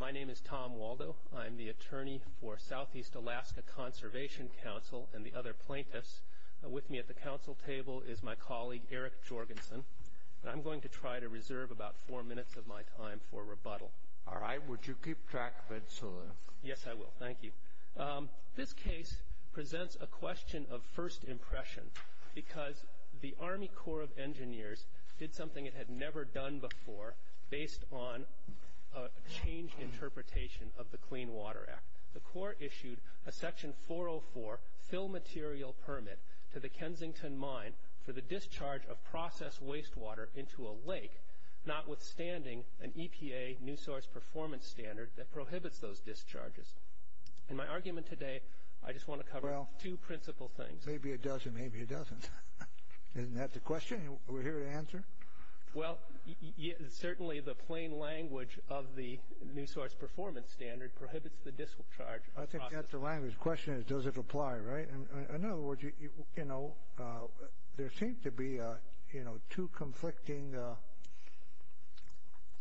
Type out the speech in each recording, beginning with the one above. My name is Tom Waldo. I'm the attorney for Southeast Alaska Conservation Council and the other plaintiffs. With me at the council table is my colleague, Eric Jorgensen, and I'm going to try to reserve about four minutes of my time for rebuttal. All right. Would you keep track of it, sir? Yes, I will. Thank you. This case presents a question of first impression because the Army interpretation of the Clean Water Act. The court issued a section 404 fill material permit to the Kensington Mine for the discharge of processed wastewater into a lake, notwithstanding an EPA new source performance standard that prohibits those discharges. In my argument today, I just want to cover two principal things. Maybe it does and maybe it doesn't. Isn't that the question we're here to answer? Well, certainly the plain language of the new source performance standard prohibits the discharge of processed... I think that's the language. The question is, does it apply, right? In other words, there seem to be two conflicting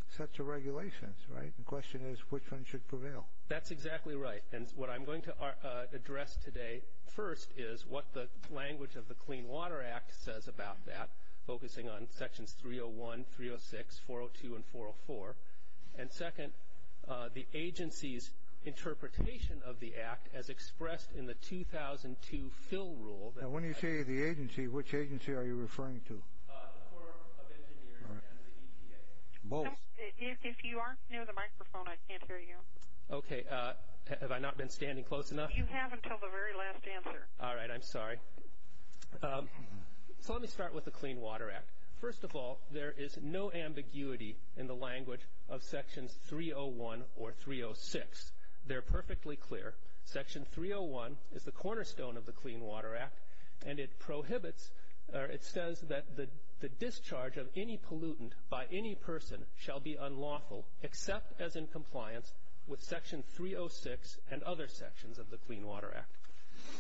sets of regulations, right? The question is, which one should prevail? That's exactly right. What I'm going to address today, first, is what the language of the Clean Water Act says about that, focusing on sections 301, 306, 402, and 404. Second, the agency's interpretation of the Act as expressed in the 2002 fill rule... When you say the agency, which agency are you referring to? If you aren't near the microphone, I can't hear you. Okay. Have I not been standing close enough? You have until the very last answer. All right. I'm sorry. Let me start with the Clean Water Act. First of all, there is no ambiguity in the language of sections 301 or 306. They're perfectly clear. Section 301 is the cornerstone of the Clean Water Act, and it prohibits... It says that the discharge of any pollutant by any person shall be unlawful, except as in compliance with section 306 and other sections of the Clean Water Act.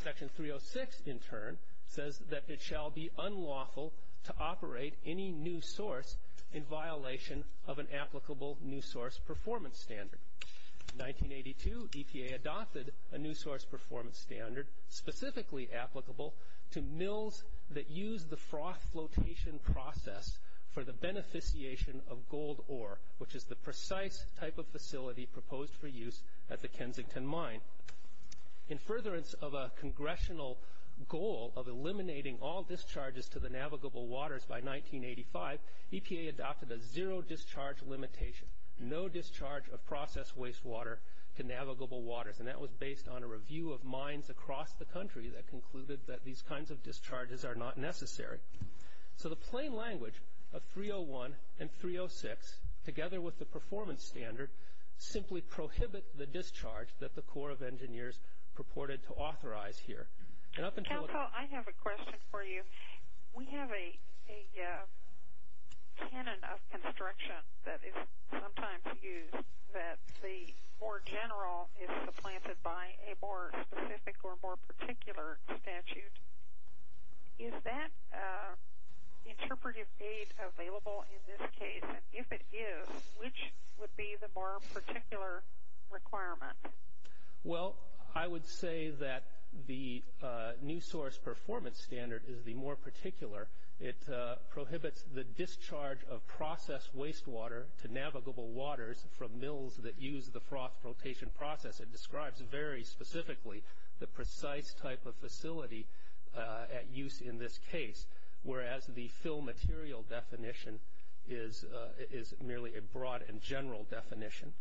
Section 306, in turn, says that it shall be unlawful to operate any new source in violation of an applicable new source performance standard. In 1982, ETA adopted a new source performance standard specifically applicable to mills that use the frost flotation process for the beneficiation of gold ore, which is the precise type of facility proposed for use at the Kensington Mine. In furtherance of a congressional goal of eliminating all discharges to the navigable waters by 1985, EPA adopted a zero discharge limitation, no discharge of processed wastewater to navigable waters. That was based on a review of mines across the country that concluded that these kinds of discharges are not necessary. The plain language of 301 and 306, together with the performance standard, simply prohibit the discharge that the Corps of Engineers purported to authorize here. And up until... Council, I have a question for you. We have a tenet of construction that is sometimes used that the more general is supplanted by a more specific or more particular statute. Is that interpretive aid available in this case? And if it is, which would be the more particular requirement? Well, I would say that the new source performance standard is the more particular. It prohibits the discharge of processed wastewater to navigable waters from mills that use the froth rotation process. It describes very specifically the precise type of facility at use in this case, whereas the fill material definition is merely a broad and general definition.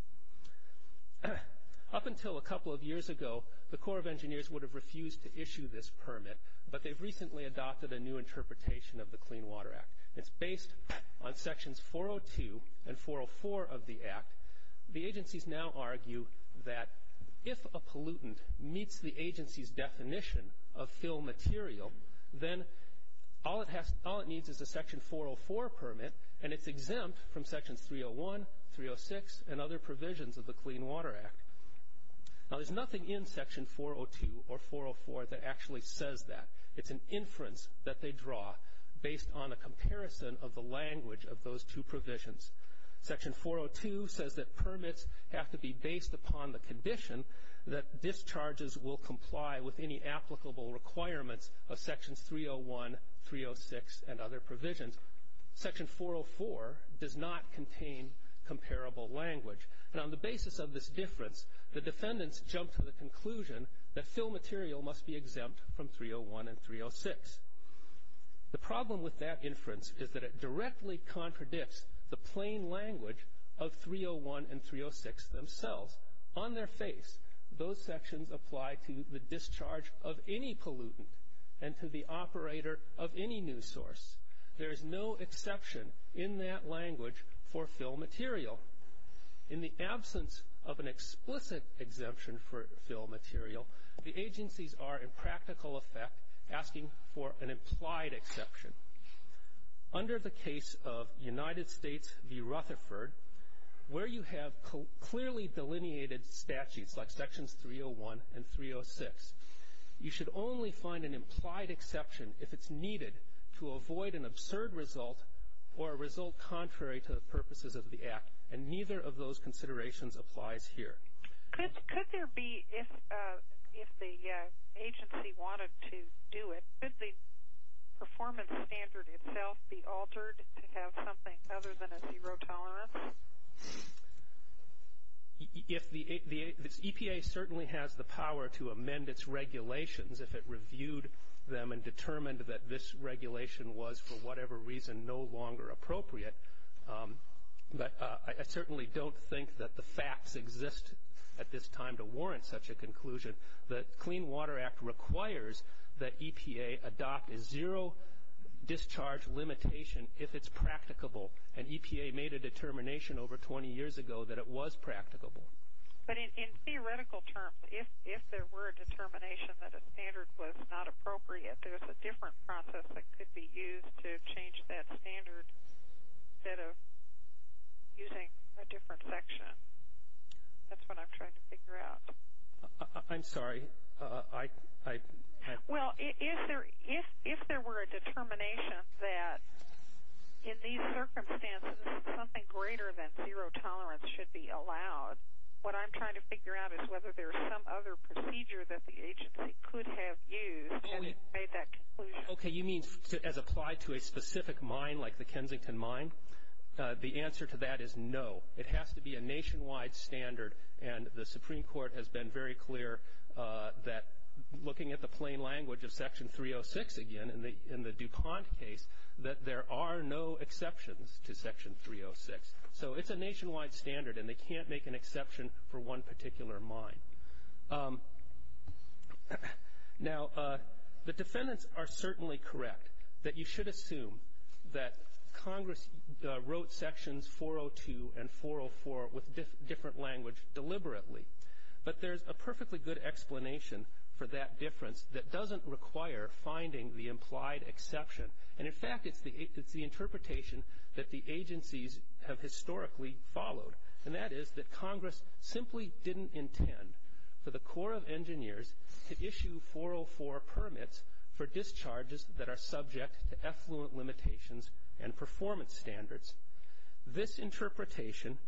Up until a couple of years ago, the Corps of Engineers would have refused to issue this permit, but they've recently adopted a new interpretation of the Clean Water Act. It's based on sections 402 and 404 of the Act. The agencies now argue that if a pollutant meets the agency's definition of fill material, then all it needs is a section 404 permit, and it's exempt from section 301, 306, and other provisions of the Clean Water Act. Now, there's nothing in section 402 or 404 that actually says that. It's an inference that they draw based on a comparison of the language of those two provisions. Section 402 says that permits have to be based upon the condition that discharges will comply with any applicable requirements of sections 301, 306, and other provisions. Section 404 does not contain comparable language, and on the basis of this difference, the defendants jump to the conclusion that fill material must be exempt from 301 and 306. The problem with that inference is that it directly contradicts the plain language of 301 and 306 themselves. On their face, those sections apply to the discharge of any pollutant and to the operator of any new source. There is no exception in that language for fill material. In the absence of an explicit exemption for fill material, the agencies are in practical effect asking for an implied exception. Under the case of United States v. Rutherford, where you have clearly delineated statutes like sections 301 and 306, you should only find an implied exception if it's needed to avoid an absurd result or a result contrary to the purposes of the Act, and neither of those considerations applies here. Could there be, if the agency wanted to do it, could the performance standard itself be altered to have something other than a zero tolerance? The EPA certainly has the power to amend its regulations if it reviewed them and determined that this regulation was, for whatever reason, no longer appropriate, but I certainly don't think that the facts exist at this time to warrant such a conclusion. The Clean Water Act requires that EPA adopt a zero discharge limitation if it's practicable, and EPA made a determination over 20 years ago that it was practicable. But in theoretical terms, if there were a determination that a standard was not appropriate, there's a different process that could be used to change that standard instead of using a different section. That's what I'm trying to figure out. I'm sorry. Well, if there were a determination that in these circumstances something greater than zero tolerance should be allowed, what I'm trying to figure out is whether there's some other procedure that the agency could have used to make that conclusion. Okay, you mean as applied to a specific mine like the Kensington Mine? The answer to that is no. It has to be a nationwide standard, and the Supreme Court has been very clear that looking at the plain language of Section 306 again in the DuPont case, that there are no exceptions to Section 306. So it's a nationwide standard, and they can't make an exception for one particular mine. Now, the defendants are certainly correct that you should assume that Congress wrote Sections 402 and 404 with this different language deliberately, but there's a perfectly good explanation for that difference that doesn't require finding the implied exception. And in fact, it's the interpretation that the agencies have historically followed, and that is that Congress simply didn't intend for the Corps of Engineers to issue 404 permits for discharges that are subject to effluent limitations and performance standards. This interpretation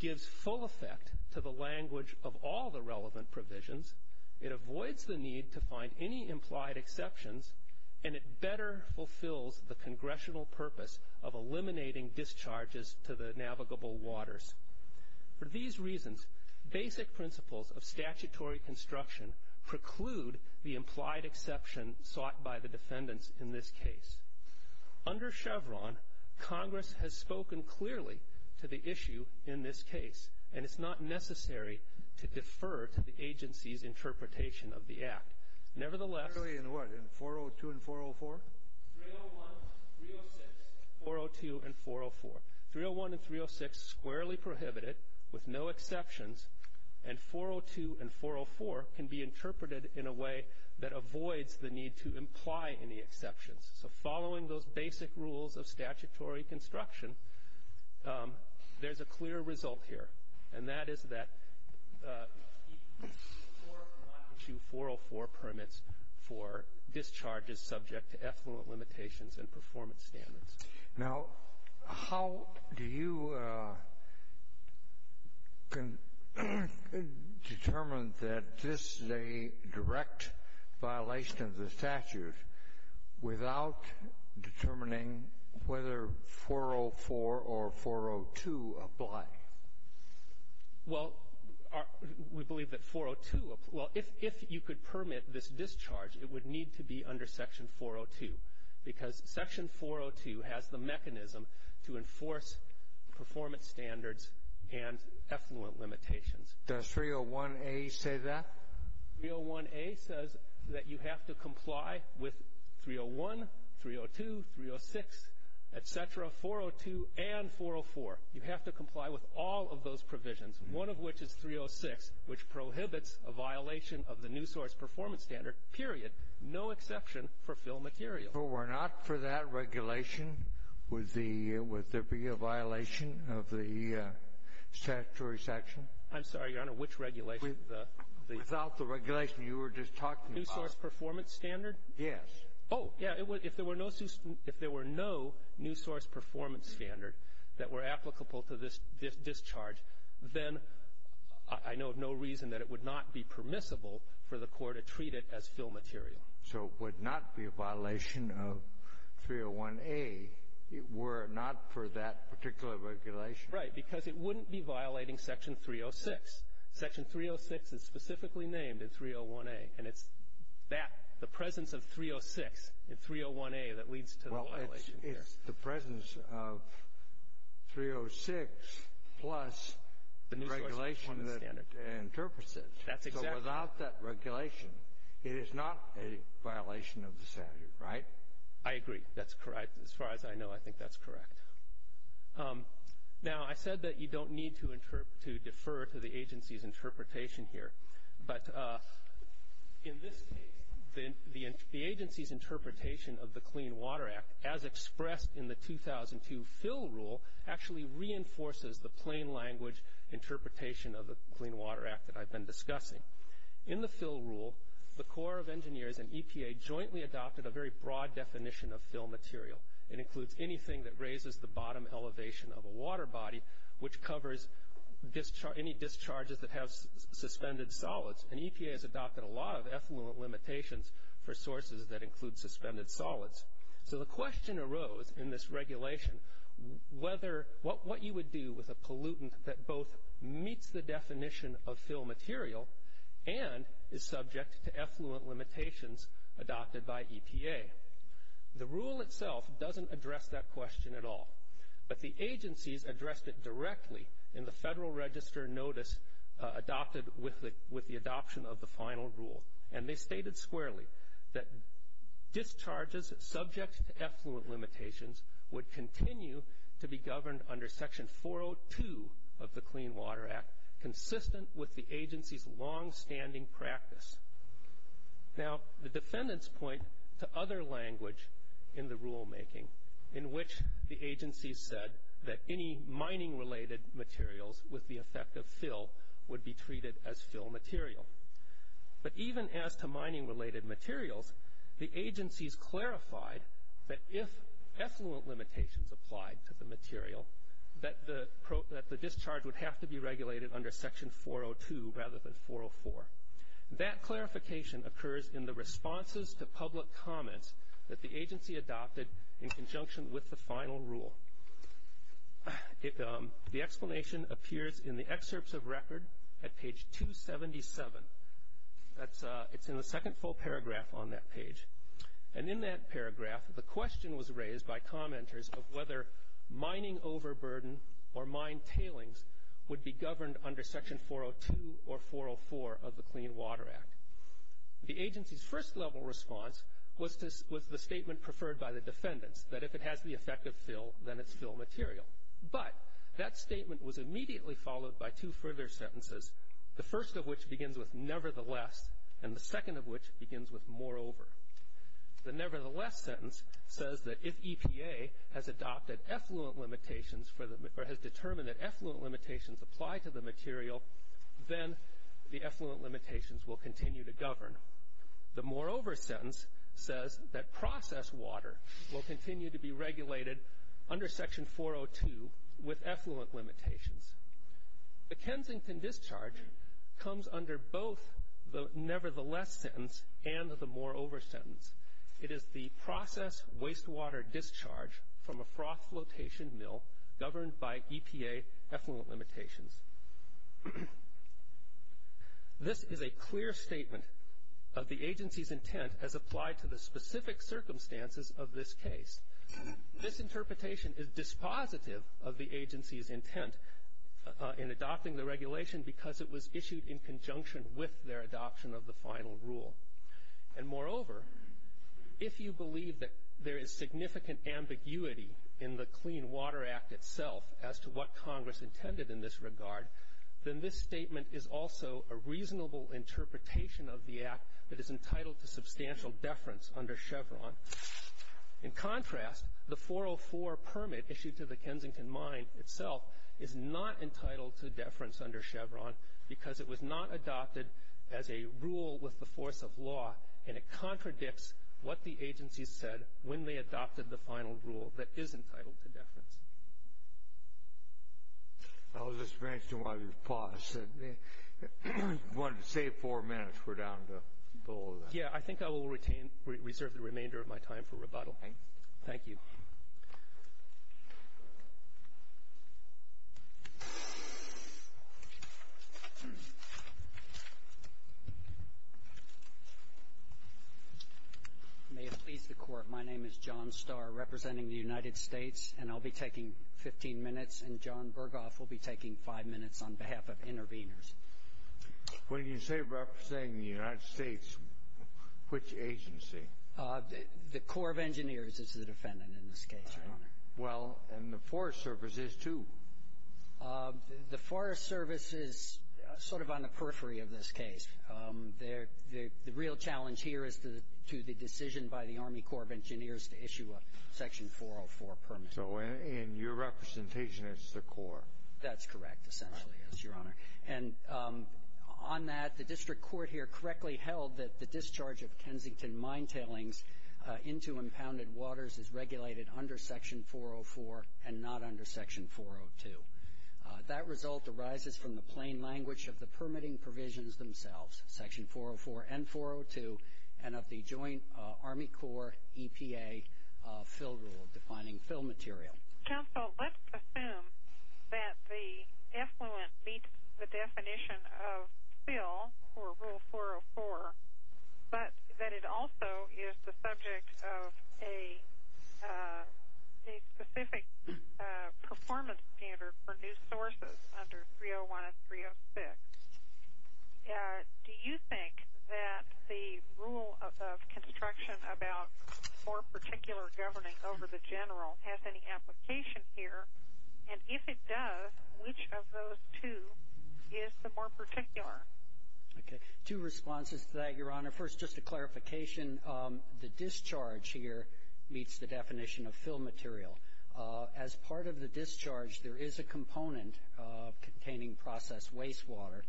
gives full effect to the language of all the relevant provisions, it avoids the need to find any implied exceptions, and it better fulfills the congressional purpose of eliminating discharges to the navigable waters. For these reasons, basic principles of statutory construction preclude the implied exception sought by the defendants in this case. Under Chevron, Congress has spoken clearly to the issue in this case, and it's not necessary to defer to the agency's interpretation of the Act. Nevertheless, 301 and 306 squarely prohibit it with no exceptions, and 402 and 404 can be interpreted in a way that avoids the need to imply any exceptions. So following those basic rules of statutory construction, there's a clear result here, and that is that the Corps cannot issue 404 permits for discharges subject to effluent limitations and performance standards. Now, how do you determine that this is a direct violation of the statutes without determining whether 404 or 402 apply? Well, we believe that 402, well, if you could permit this discharge, it would need to be under section 402 because section 402 has the mechanism to enforce performance standards and effluent limitations. Does 301A say that? 301A says that you have to comply with 301, 302, 306, et cetera, 402 and 404. You have to comply with all of those provisions, one of which is 306, which prohibits a violation of the new source performance standard, period, no exception for fill material. So we're not for that regulation? Would there be a violation of the statutory section? I'm sorry, Your Honor, which regulation? Without the regulation you were just talking about. New source performance standard? Yes. Oh, yeah. If there were no new source performance standard that were applicable to this discharge, then I know of no reason that it would not be permissible for the Corps to treat it as fill were it not for that particular regulation. Right, because it wouldn't be violating section 306. Section 306 is specifically named in 301A, and it's that, the presence of 306 in 301A that leads to the violation here. Well, it's the presence of 306 plus the regulation and purposes. That's exactly. So without that regulation, it is not a violation of the statute, right? I agree. That's correct. As far as I know, I think that's correct. Now, I said that you don't need to defer to the agency's interpretation here, but the agency's interpretation of the Clean Water Act, as expressed in the 2002 fill rule, actually reinforces the plain language interpretation of the Clean Water Act that I've been discussing. In the fill rule, the Corps of Engineers and EPA jointly adopted a very broad definition of fill material. It includes anything that raises the bottom elevation of a water body, which covers any discharges that have suspended solids. And EPA has adopted a lot of effluent limitations for sources that include suspended solids. So the question arose in this regulation, what you would do with a pollutant that both meets the definition of fill material and is subject to effluent limitations adopted by EPA? The rule itself doesn't address that question at all, but the agency's addressed it directly in the federal register notice adopted with the adoption of the final rule. And they stated squarely that discharges subject to effluent limitations would continue to be governed under section 402 of the Clean Water Act, consistent with the agency's longstanding practice. Now, the defendants point to other language in the rulemaking in which the agency said that any mining-related materials with the effect of fill would be treated as fill material. But even as to mining-related materials, the agency's clarified that if effluent limitations applied to the material, that the discharge would have to be regulated under section 402 rather than 404. That clarification occurs in the responses to public comments that the agency adopted in conjunction with the final rule. The explanation appears in the excerpts of record at page 277. It's in the second full paragraph on that page. And in that paragraph, the question was raised by commenters of whether mining overburden or mine tailings would be governed under section 402 or 404 of the Clean Water Act. The agency's first level response was the statement preferred by the defendants, that if it has the effect of fill, then it's fill material. But that statement was immediately followed by two further sentences, the first of which begins with nevertheless, and the second of which begins with moreover. The nevertheless sentence says that if EPA has adopted effluent limitations or has determined that effluent limitations apply to the material, then the effluent limitations will continue to govern. The moreover sentence says that processed water will continue to be regulated under section 402 with effluent limitations. The Kensington discharge comes under both the nevertheless sentence and the process wastewater discharge from a frost flotation mill governed by EPA effluent limitations. This is a clear statement of the agency's intent as applied to the specific circumstances of this case. This interpretation is dispositive of the agency's intent in adopting the regulation because it was issued in conjunction with their adoption of the final rule. And moreover, if you believe that there is significant ambiguity in the Clean Water Act itself as to what Congress intended in this regard, then this statement is also a reasonable interpretation of the act that is entitled to substantial deference under Chevron. In contrast, the 404 permit issued to the Kensington mine itself is not entitled to deference under Chevron because it was not adopted as a rule with the force of law and it contradicts what the agency said when they adopted the final rule that is entitled to deference. I was just wondering why you paused. You wanted to save four minutes. We're down to go over that. Yeah, I think I will reserve the remainder of my time for rebuttal. Thank you. May it please the Court, my name is John Starr representing the United States and I'll be taking 15 minutes and John Berghoff will be taking five minutes on behalf of interveners. When you say representing the United States, which agency? The Corps of Engineers is the defendant in this case, Your Honor. Well, and the Forest Service is too. The Forest Service is sort of on the periphery of this case. The real challenge here is to the decision by the Army Corps of Engineers to issue a section 404 permit. So in your representation, it's the Corps? That's correct, essentially, yes, Your Honor. And on that, the district court here correctly held that the discharge of Kensington mine tailings into impounded waters is regulated under section 404 and not under section 402. That result arises from the plain language of the permitting provisions themselves, section 404 and 402, and of the joint Army Corps EPA fill rule defining fill material. Counsel, let's assume that the affluent meet the definition of fill or rule 404, but that also is the subject of a specific performance standard for new sources under 301 and 306. Do you think that the rule of construction about more particular governance over the general has any application here? And if it does, which of those two is the more particular? Okay, two responses to that, Your Honor. First, just a clarification, the discharge here meets the definition of fill material. As part of the discharge, there is a component containing processed wastewater,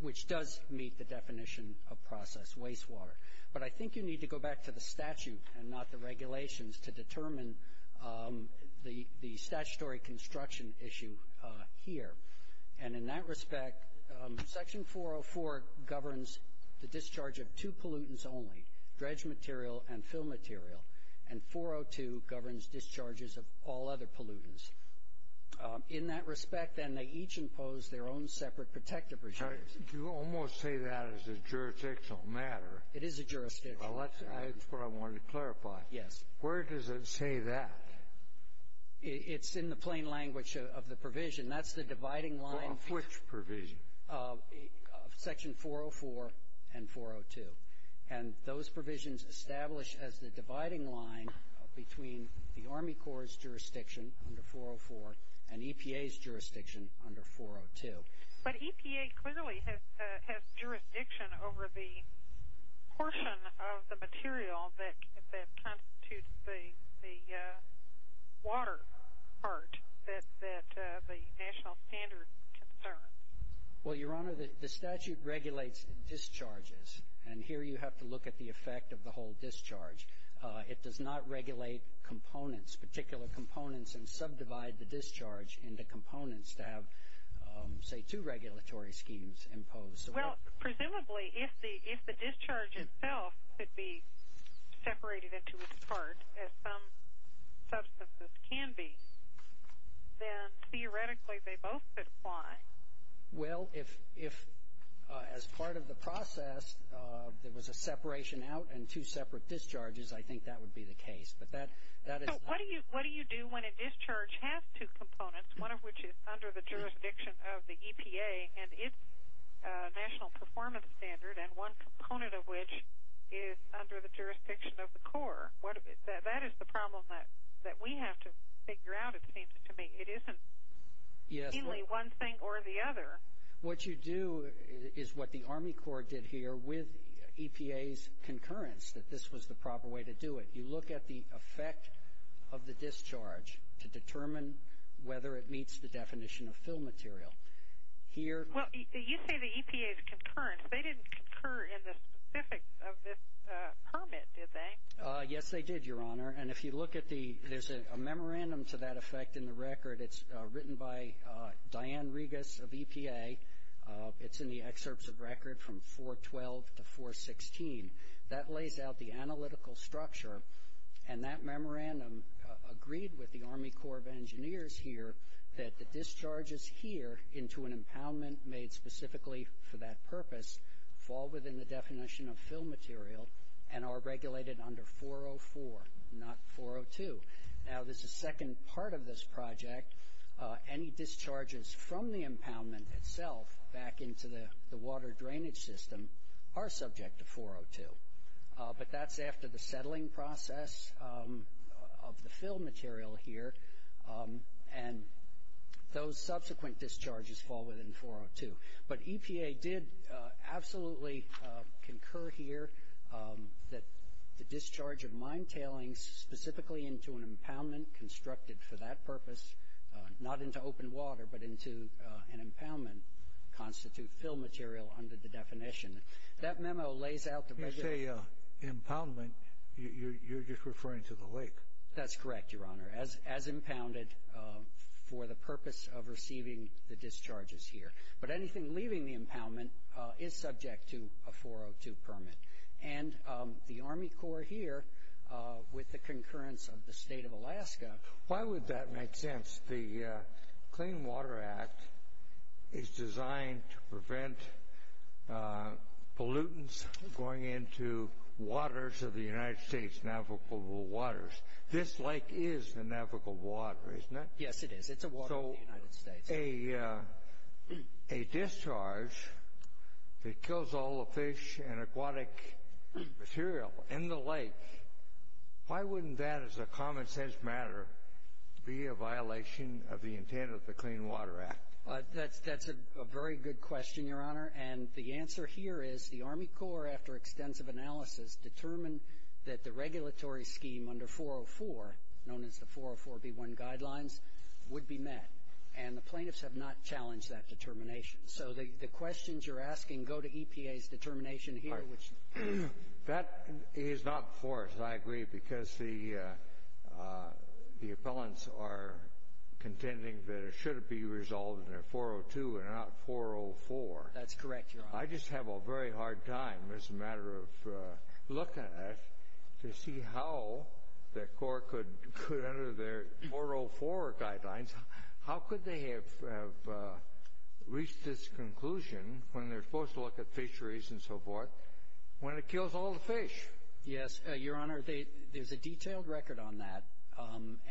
which does meet the definition of processed wastewater. But I think you need to go back to the statute and not the regulations to determine the statutory construction issue here. And in that respect, section 404 governs the discharge of two pollutants only, dredge material and fill material, and 402 governs discharges of all other pollutants. In that respect, then, they each impose their own separate protective regime. You almost say that is a jurisdictional matter. It is a jurisdiction. That's what I wanted to clarify. Where does it say that? It's in the plain language of the provision. That's the dividing line. Of which provision? Section 404 and 402. And those provisions established as the dividing line between the Army Corps' jurisdiction under 404 and EPA's jurisdiction under 402. But EPA clearly has jurisdiction over the portion of the material that constitutes the water part that the national standards concern. Well, Your Honor, the statute regulates the discharges. And here you have to look at the effect of the whole discharge. It does not regulate components, particular components, and subdivide the discharge into components to have, say, two regulatory schemes imposed. Well, presumably, if the discharge itself could be separated into its part, as some substances can be, then theoretically they both could apply. Well, if, as part of the process, there was a separation out and two separate discharges, I think that would be the case. What do you do when a discharge has two components, one of which is under the jurisdiction of the EPA and its national performance standard, and one component of which is under the jurisdiction of the Corps? That is the problem that we have to figure out, it seems to me. It isn't really one thing or the other. What you do is what the Army Corps did here with EPA's concurrence, that this was the proper way to do it. You look at the effect of the discharge to determine whether it meets the definition of fill material. Here... Well, you say the EPA's concurrence. They didn't concur in the specifics of this comment, did they? Yes, they did, Your Honor. And if you look at the... There's a memorandum to that effect in the record. It's written by Diane Regas of EPA. It's in the structure. And that memorandum agreed with the Army Corps of Engineers here that the discharges here into an impoundment made specifically for that purpose fall within the definition of fill material and are regulated under 404, not 402. Now, this is the second part of this project. Any discharges from the impoundment itself back into the water drainage system are subject to 402. But that's after the settling process of the fill material here. And those subsequent discharges fall within 402. But EPA did absolutely concur here that the discharge of mine tailings specifically into an impoundment constructed for that purpose, not into open water, but into an impoundment, constitute fill material under the definition. That memo lays out the... When you say impoundment, you're just referring to the lake. That's correct, Your Honor, as impounded for the purpose of receiving the discharges here. But anything leaving the impoundment is subject to a 402 permit. And the Army Corps here, with the concurrence of the state of Alaska... Why would that make sense? The Clean Water Act is designed to prevent pollutants going into waters of the United States, navigable waters. This lake is the navigable water, isn't it? Yes, it is. It's a water of the United States. A discharge that kills all the fish and aquatic material in the lake, why wouldn't that, as a common sense matter, be a violation of the intent of the Clean Water Act? That's a very good question, Your Honor. And the answer here is the Army Corps, after extensive analysis, determined that the regulatory scheme under 404, known as the 404b1 guidelines, would be met. And the plaintiffs have not challenged that determination. So the questions you're asking go to EPA's determination here, which... That is not forced, I agree, because the appellants are contending that it should be resolved under 402 and not 404. That's correct, Your Honor. I just have a very hard time, as a matter of looking at it, to see how the Corps could, under their 404 guidelines, how could they have reached this conclusion, when they're supposed to look at fisheries and so forth, when it kills all the fish? Yes, Your Honor, there's a detailed record on that,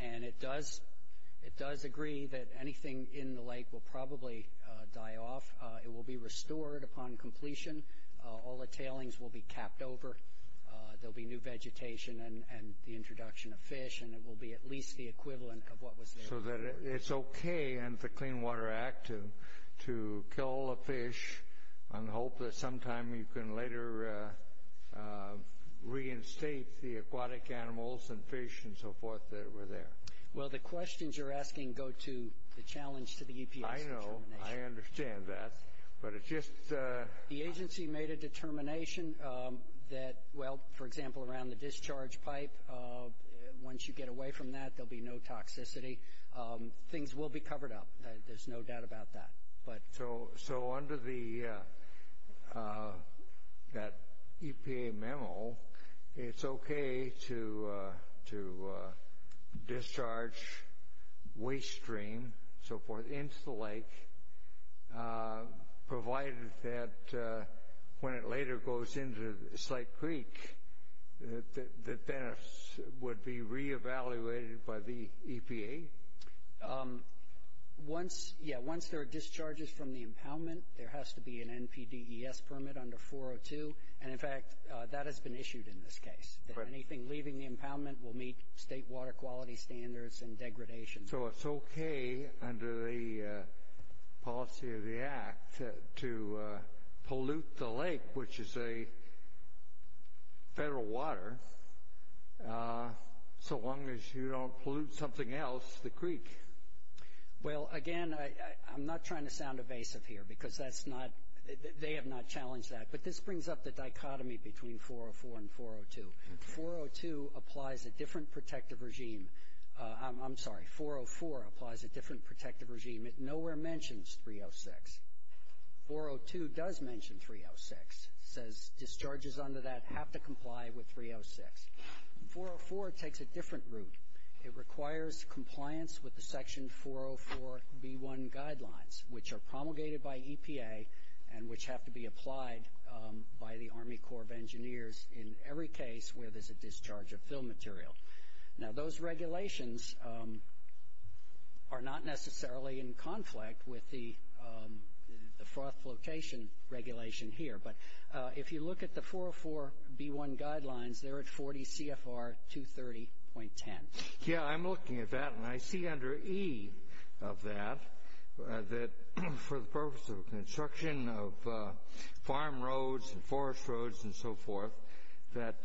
and it does agree that anything in the lake will probably die off. It will be restored upon completion. All the tailings will be tapped over. There'll be new vegetation and the introduction of fish, and it will be at least the equivalent of what was there before. So it's okay under the Clean Water Act to kill all the fish and hope that sometime you can later reinstate the aquatic animals and fish and so forth that were there. Well, the questions you're asking go to the challenge to the EPA's determination. I know. I understand that, but it's just... The agency made a determination that, well, for example, around the discharge pipe, once you get away from that, there'll be no toxicity. Things will be covered up. There's no doubt about that, but... So under that EPA memo, it's okay to discharge waste stream and so forth into the lake, provided that when it later goes into the site creek, that then it would be re-evaluated by the NPDES permit under 402. In fact, that has been issued in this case, that anything leaving the impoundment will meet state water quality standards and degradation. So it's okay under the policy of the act to pollute the lake, which is a federal water, so long as you don't pollute something else, the creek. Well, again, I'm not trying to sound evasive here because that's not... They have not challenged that, but this brings up the dichotomy between 404 and 402. 402 applies a different protective regime. I'm sorry. 404 applies a different protective regime. It nowhere mentions 306. 402 does mention 306. It says discharges under that have to comply with 306. 404 takes a different route. It requires compliance with the EPA and which have to be applied by the Army Corps of Engineers in every case where there's a discharge of fill material. Now, those regulations are not necessarily in conflict with the location regulation here, but if you look at the 404B1 guidelines, they're at 40 CFR 230.10. Yeah, I'm looking at that and I see under E of that that for the purpose of construction of farm roads and forest roads and so forth, that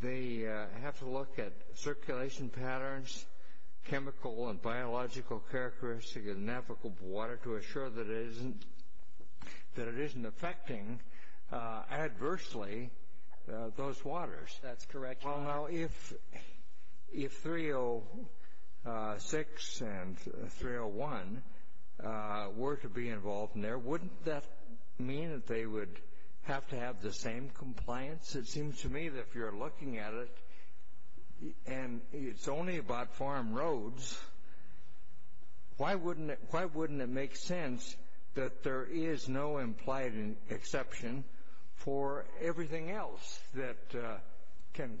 they have to look at circulation patterns, chemical and biological characteristics of navigable water to assure that it isn't affecting adversely those waters. That's correct. If 306 and 301 were to be involved in there, wouldn't that mean that they would have to have the same compliance? It seems to me that if you're looking at it and it's only about farm roads, why wouldn't it make sense that there is no implied exception for everything else that can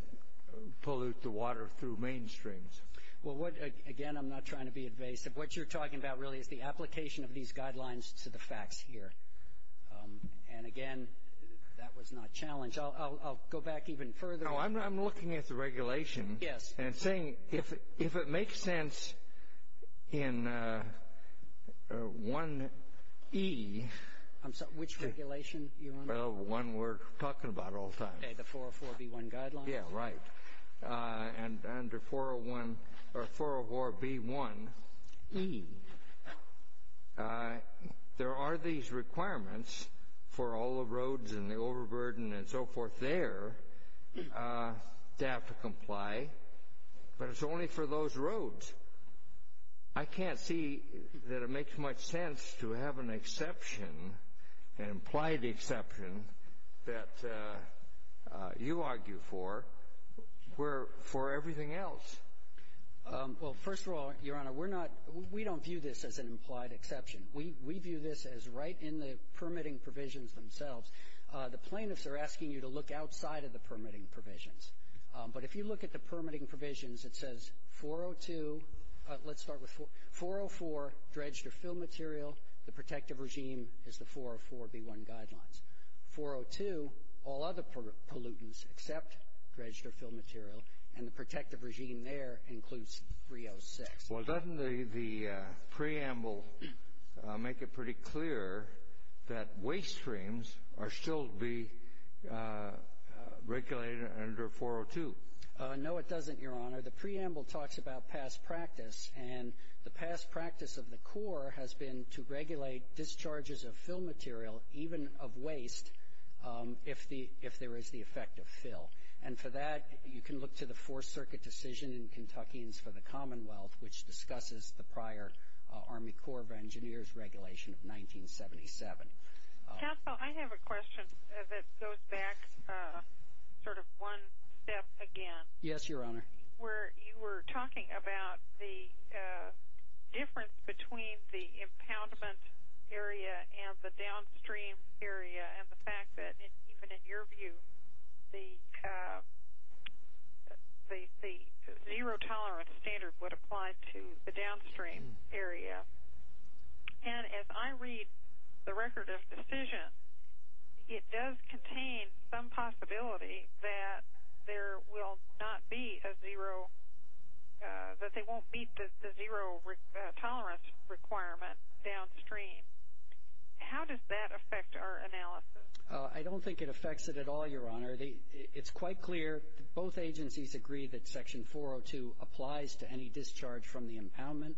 pollute the water through mainstreams? Well, again, I'm not trying to be invasive. What you're talking about really is the application of these guidelines to the facts here. Again, that was not challenged. I'll go back even further. I'm looking at the regulation and saying, if it makes sense in 1E- I'm sorry, which regulation? Well, the one we're talking about all the time. Okay, the 404B1 guidelines? Yeah, right. Under 404B1E, there are these requirements for all the roads and the overburden and so forth there to have to comply, but it's only for those roads. I can't see that it makes much sense to have an exception, an implied exception, that you argue for for everything else. Well, first of all, Your Honor, we don't view this as an implied exception. We view this as right in the permitting provisions themselves. The plaintiffs are asking you to look outside of the permitting provisions, but if you look at the permitting provisions, it says 402. Let's start with 404, dredged or fill material. The protective regime is the 404B1 guidelines. 402, all other pollutants except dredged or fill material, and the protective regime there includes 306. Well, doesn't the preamble make it pretty clear that waste streams are still the regulated under 402? No, it doesn't, Your Honor. The preamble talks about past practice, and the past practice of the Corps has been to regulate discharges of fill material, even of waste, if there is the effect of fill. And for that, you can look to the Fourth Circuit decision in Kentucky for the Commonwealth, which discusses the prior Army Corps of Engineers regulation of sort of one step again. Yes, Your Honor. Where you were talking about the difference between the impoundment area and the downstream area, and the fact that even in your view, the zero tolerance standard would apply to the downstream area. And as I read the record of decisions, it does contain some possibility that there will not be a zero, that they won't meet the zero tolerance requirement downstream. How does that affect our analysis? I don't think it affects it at all, Your Honor. It's quite clear. Both agencies agree that Section 402 applies to any discharge from the impoundment,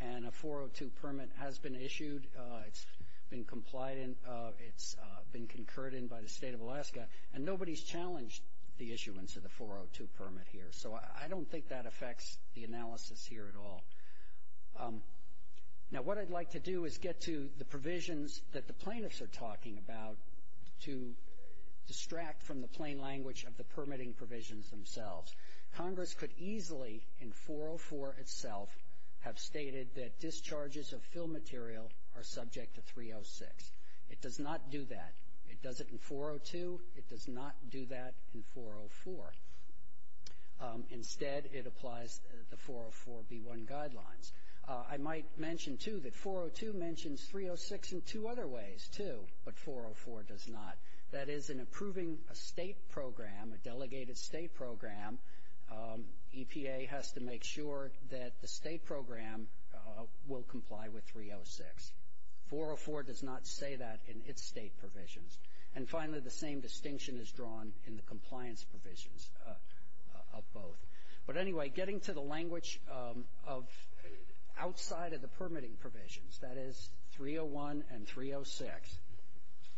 and a 402 permit has been issued. It's been compliant. It's been concurred in by the State of Alaska. And nobody's challenged the issuance of the 402 permit here. So I don't think that affects the analysis here at all. Now, what I'd like to do is get to the provisions that the plaintiffs are talking about to distract from the plain language of the permitting provisions themselves. Congress could easily, in 404 itself, have stated that discharges of fill material are subject to 306. It does not do that. It does it in 402. It does not do that in 404. Instead, it applies the 404b1 guidelines. I might mention, too, that 402 mentions 306 in two other ways, too, but 404 does not. That is, in approving a State program, a delegated State program, EPA has to make sure that the State program will comply with 306. 404 does not say that in its State provisions. And finally, the same distinction is drawn in the compliance provisions of both. But anyway, getting to the language of outside of the permitting provisions, that is 301 and 306.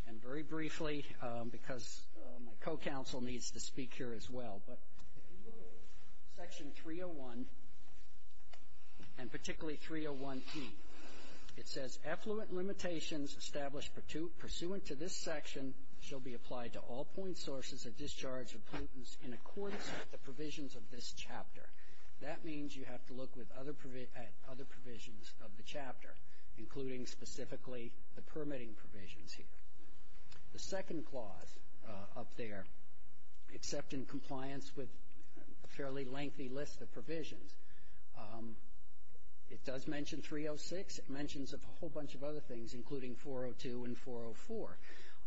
And very briefly, because my co-counsel needs to speak here as well, but section 301 and particularly 301c, it says effluent limitations established pursuant to this section shall be applied to all point sources of discharge of plaintiffs in accordance with the provisions of this chapter. That means you have to look at other provisions of the chapter, including specifically the permitting provisions here. The second clause up there, except in compliance with a fairly lengthy list of provisions, it does mention 306. It mentions a whole bunch of other things, including 402 and 404.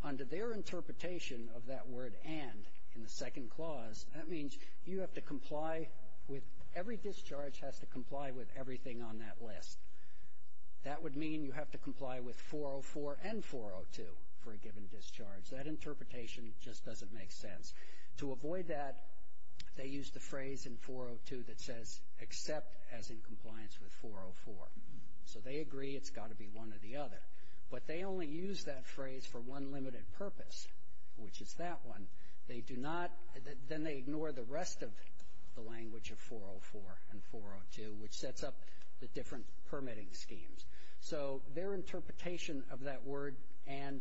Under their interpretation of that word and in the second clause, that means you have to comply with every discharge has to comply with everything on that list. That would mean you have to comply with 404 and 402 for a given discharge. That interpretation just doesn't make sense. To avoid that, they use the phrase in 402 that says except as in compliance with 404. So they agree it's got to be one or the other. But they only use that phrase for one limited purpose, which is that one. They do not, then they ignore the rest of the language of 404 and 402, which sets up the different permitting schemes. So their interpretation of that word and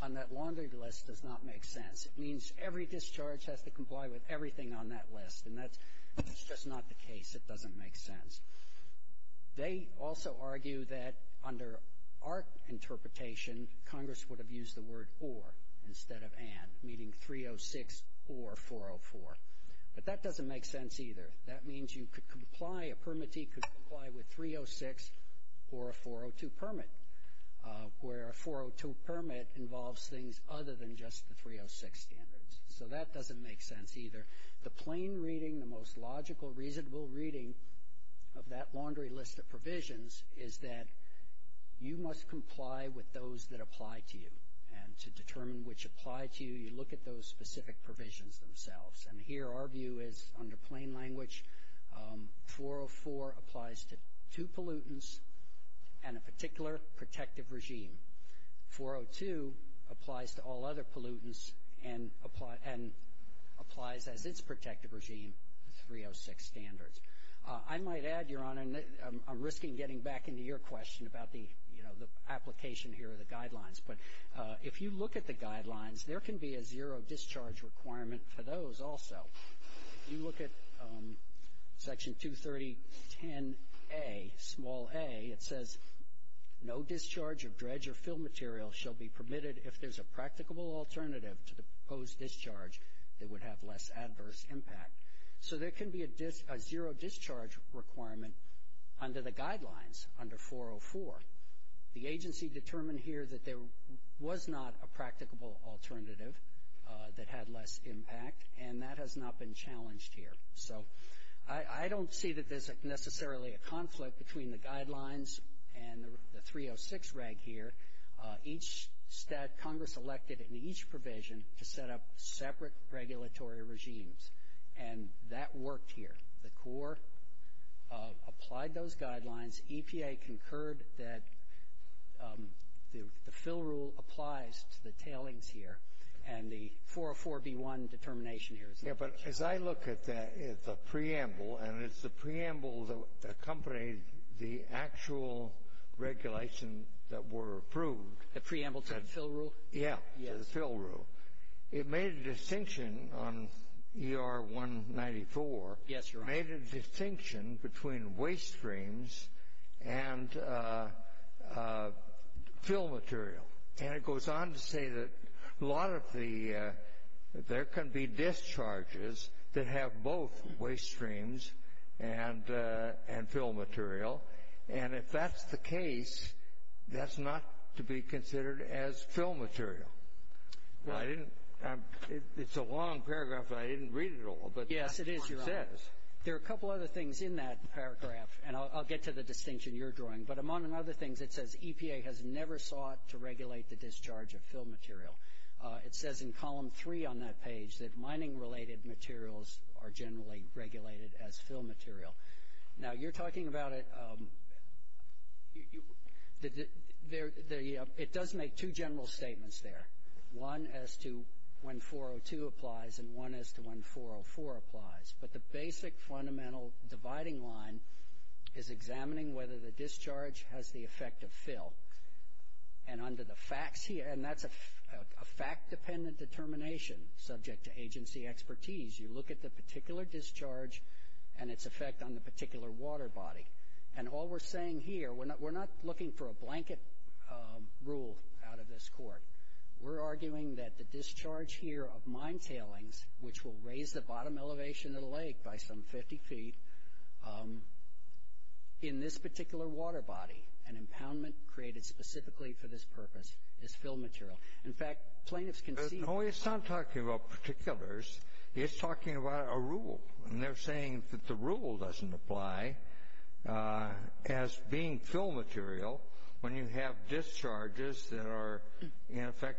on that laundry list does not make sense. It means every discharge has to comply with everything on that list. And that's just not the case. It doesn't make sense. They also argue that under our interpretation, Congress would have used the word or instead of and, meaning 306 or 404. But that doesn't make sense either. That means you could comply, a permittee could comply with 306 or a 402 permit, where a 402 permit involves things other than just the 306 standards. So that doesn't make sense either. The plain reading, the most logical, reasonable reading of that laundry list of provisions is that you must comply with those that apply to you. And to determine which apply to you, you look at those specific provisions themselves. And here our view is under plain language, 404 applies to two pollutants and a particular protective regime. 402 applies to all other pollutants and applies to this protective regime, 306 standards. I might add, Your Honor, I'm risking getting back into your question about the, you know, the application here of the guidelines. But if you look at the guidelines, there can be a zero discharge requirement for those also. If you look at section 230.10a, small a, it says no discharge of dredge or fill material shall be permitted if there's a practicable alternative to the proposed discharge that would have less adverse impact. So there can be a zero discharge requirement under the guidelines under 404. The agency determined here that there was not a practicable alternative that had less impact and that has not been challenged here. So I don't see that there's necessarily a conflict between the guidelines and the 306 reg here. Each stat, Congress elected in each provision to set up separate regulatory regimes and that worked here. The Corps applied those guidelines. EPA concurred that the fill rule applies to the tailings here and the 404b1 determination here. Yeah, but as I look at that, it's a preamble and it's the preamble that accompanied the actual regulation that were approved. The preamble to the fill rule? Yeah, the fill rule. It made a distinction on ER 194. Yes, Your Honor. It made a distinction between waste streams and fill material. And it have both waste streams and fill material. And if that's the case, that's not to be considered as fill material. It's a long paragraph and I didn't read it all. Yes, it is, Your Honor. There are a couple other things in that paragraph and I'll get to the distinction you're drawing. But among other things, it says EPA has never sought to regulate the discharge of fill material. It says in column three on that page that mining-related materials are generally regulated as fill material. Now, you're talking about it. It does make two general statements there. One as to when 402 applies and one as to when 404 applies. But the basic fundamental dividing line is examining whether the discharge has the effect of fill. And under the facts here, and that's a fact-dependent determination subject to agency expertise, you look at the particular discharge and its effect on the particular water body. And all we're saying here, we're not looking for a blanket rule out of this court. We're arguing that the discharge here of mine tailings, which will raise the bottom elevation of the lake by some 50 feet, in this particular water body, an impoundment created specifically for this purpose, is fill material. In fact, plaintiffs can see- No, he's not talking about particulars. He's talking about a rule. And they're saying that the rule doesn't apply as being fill material when you have discharges that are, in effect,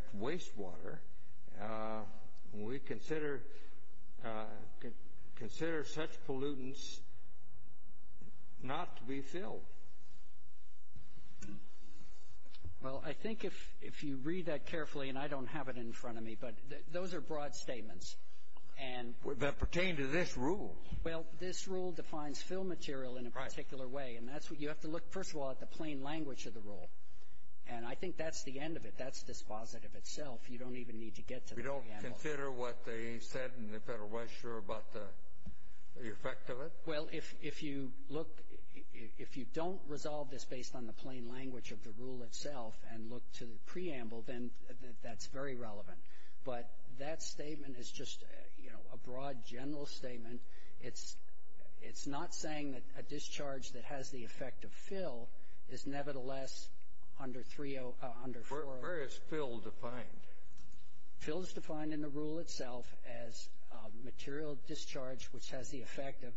If you read that carefully, and I don't have it in front of me, but those are broad statements. That pertain to this rule. Well, this rule defines fill material in a particular way. And that's what you have to look, first of all, at the plain language of the rule. And I think that's the end of it. That's dispositive itself. You don't even need to get to the end. You don't consider what they said in the federal register about the effect of it? Well, if you look, if you don't resolve this based on the plain language of the rule itself and look to the preamble, then that's very relevant. But that statement is just a broad, general statement. It's not saying that a discharge that has the effect of fill is nevertheless under three or under four. Where is fill defined? Fill is defined in the rule itself as material discharge which has the effect of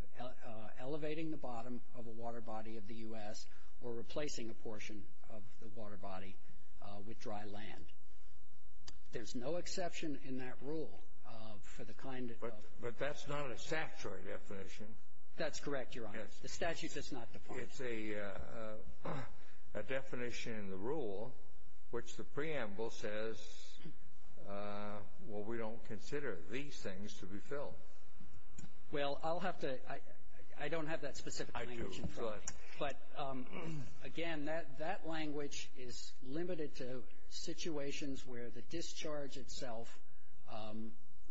with dry land. There's no exception in that rule for the kind of... But that's not a statutory definition. That's correct, Your Honor. The statute does not define it. It's a definition in the rule which the preamble says, well, we don't consider these things to be fill. Well, I'll have to... I don't have that specific language in front of me. But again, that language is limited to situations where the discharge itself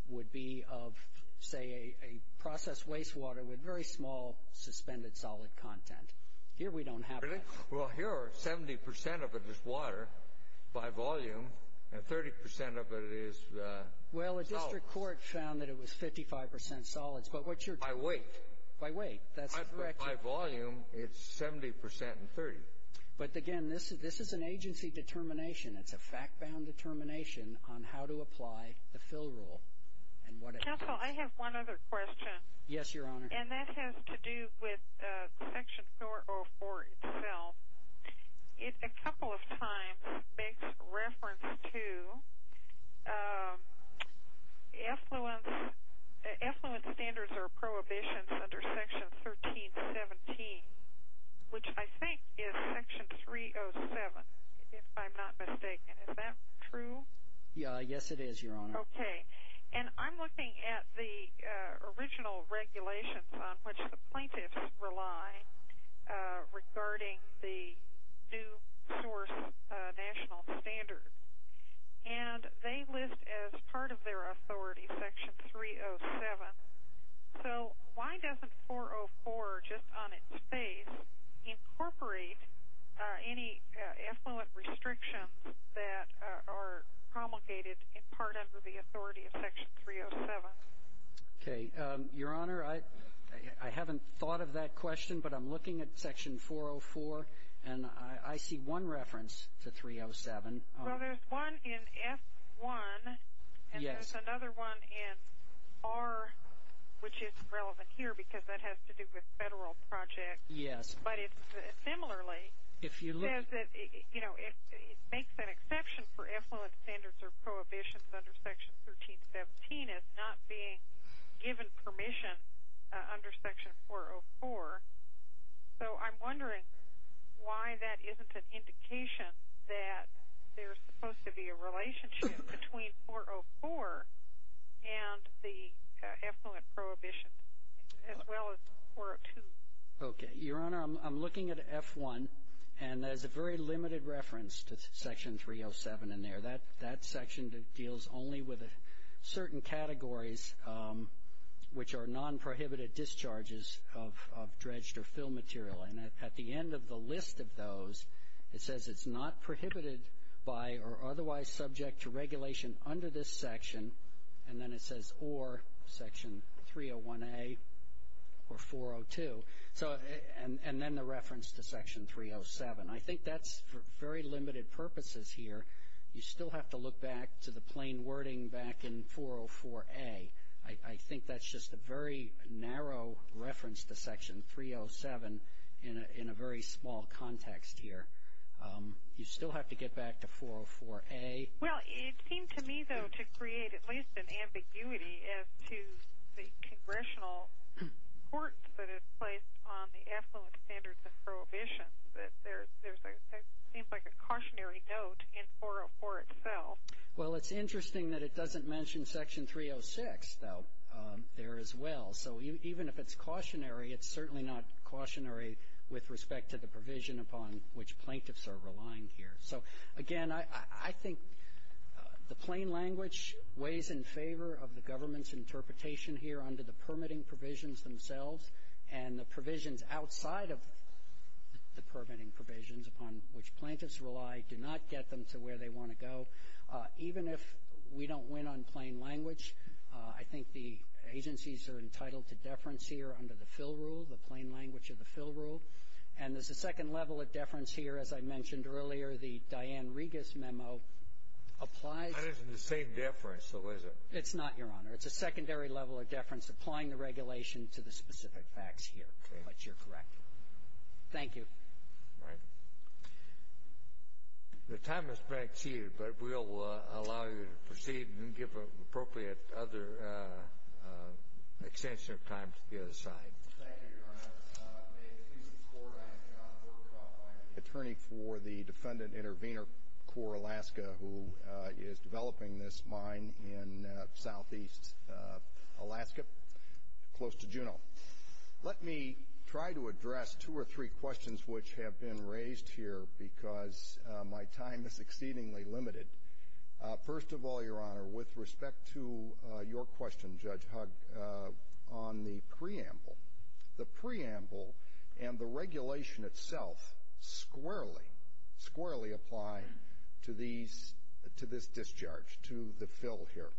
would be of, say, a processed wastewater with very small suspended solid content. Here we don't have that. Well, here are 70% of it is water by volume and 30% of it is solid. Well, the district court found that it was 55% solids. But what's your... By weight. By weight. That's correct. By volume, it's 70% and 30%. But again, this is an agency determination. It's a fact-bound determination on how to apply the fill rule and what... Counsel, I have one other question. Yes, Your Honor. And that has to do with Section 404 itself. It a couple of times makes reference to effluent standards or prohibitions under Section 1317, which I think is Section 307, if I'm not mistaken. Is that true? Yeah, yes, it is, Your Honor. Okay. And I'm looking at the original regulations on which the plaintiffs rely regarding the new source national standard. And they list as part of their authority Section 307. So why doesn't 404, just on its face, incorporate any effluent restrictions that are promulgated in part under the authority of Section 307? Okay. Your Honor, I haven't thought of that question, but I'm looking at Section 404. And I see one reference to 307. Well, there's one in S-1, and there's another one in R, which is relevant here because that has to do with federal projects. Yes. But it's similarly says that it makes an exception for effluent standards or prohibitions under Section 1317 as not being given permission under Section 404. So I'm wondering why that isn't an indication that there's supposed to be a relationship between 404 and the effluent prohibition, as well as 402. Okay. Your Honor, I'm looking at F-1, and there's a very limited reference to Section 307 in there. That section that deals only with certain categories, which are non-prohibited discharges of dredged or fill material. And at the end of the list of those, it says it's not prohibited by or otherwise subject to regulation under this section. And then it says, or Section 301A or 402, and then the reference to Section 307. I think that's for very limited purposes here. You still have to look back to the plain wording back in 404A. I think that's just a very narrow reference to Section 307 in a very small context here. You still have to get back to 404A. Well, it seems to me, though, to create at least an ambiguity as to the congressional court that is placed on the effluent standards and prohibitions. But there's a, it seems like a cautionary note in 404 itself. Well, it's interesting that it doesn't mention Section 306, though, there as well. So even if it's cautionary, it's certainly not cautionary with respect to the provision upon which plaintiffs are relying here. So again, I think the plain language weighs in favor of the government's interpretation here under the permitting provisions themselves. And the provisions outside of the permitting provisions upon which plaintiffs rely do not get them to where they want to go. Even if we don't win on plain language, I think the agencies are entitled to deference here under the fill rule, the plain language of the fill rule. And there's a second level of deference here, as I mentioned earlier, the Diane Regas memo applies- That isn't the same deference, Elizabeth. It's not, Your Honor. It's a secondary level of deference applying the regulation to the specific facts here. But you're correct. Thank you. All right. The time is back to you, but we'll allow you to proceed and give appropriate other extension of time to the other side. Thank you, Your Honor. I'm going to excuse the Court. I'm going to turn it over to the Attorney for the Defendant Intervenor Corps, Alaska, who is developing this mine in southeast Alaska, close to Juneau. Let me try to address two or three questions which have been raised here because my time is exceedingly limited. First of all, Your Honor, with respect to your question, Judge Hugg, on the preamble, the preamble and the regulation itself squarely, squarely apply to this discharge, to the fill here.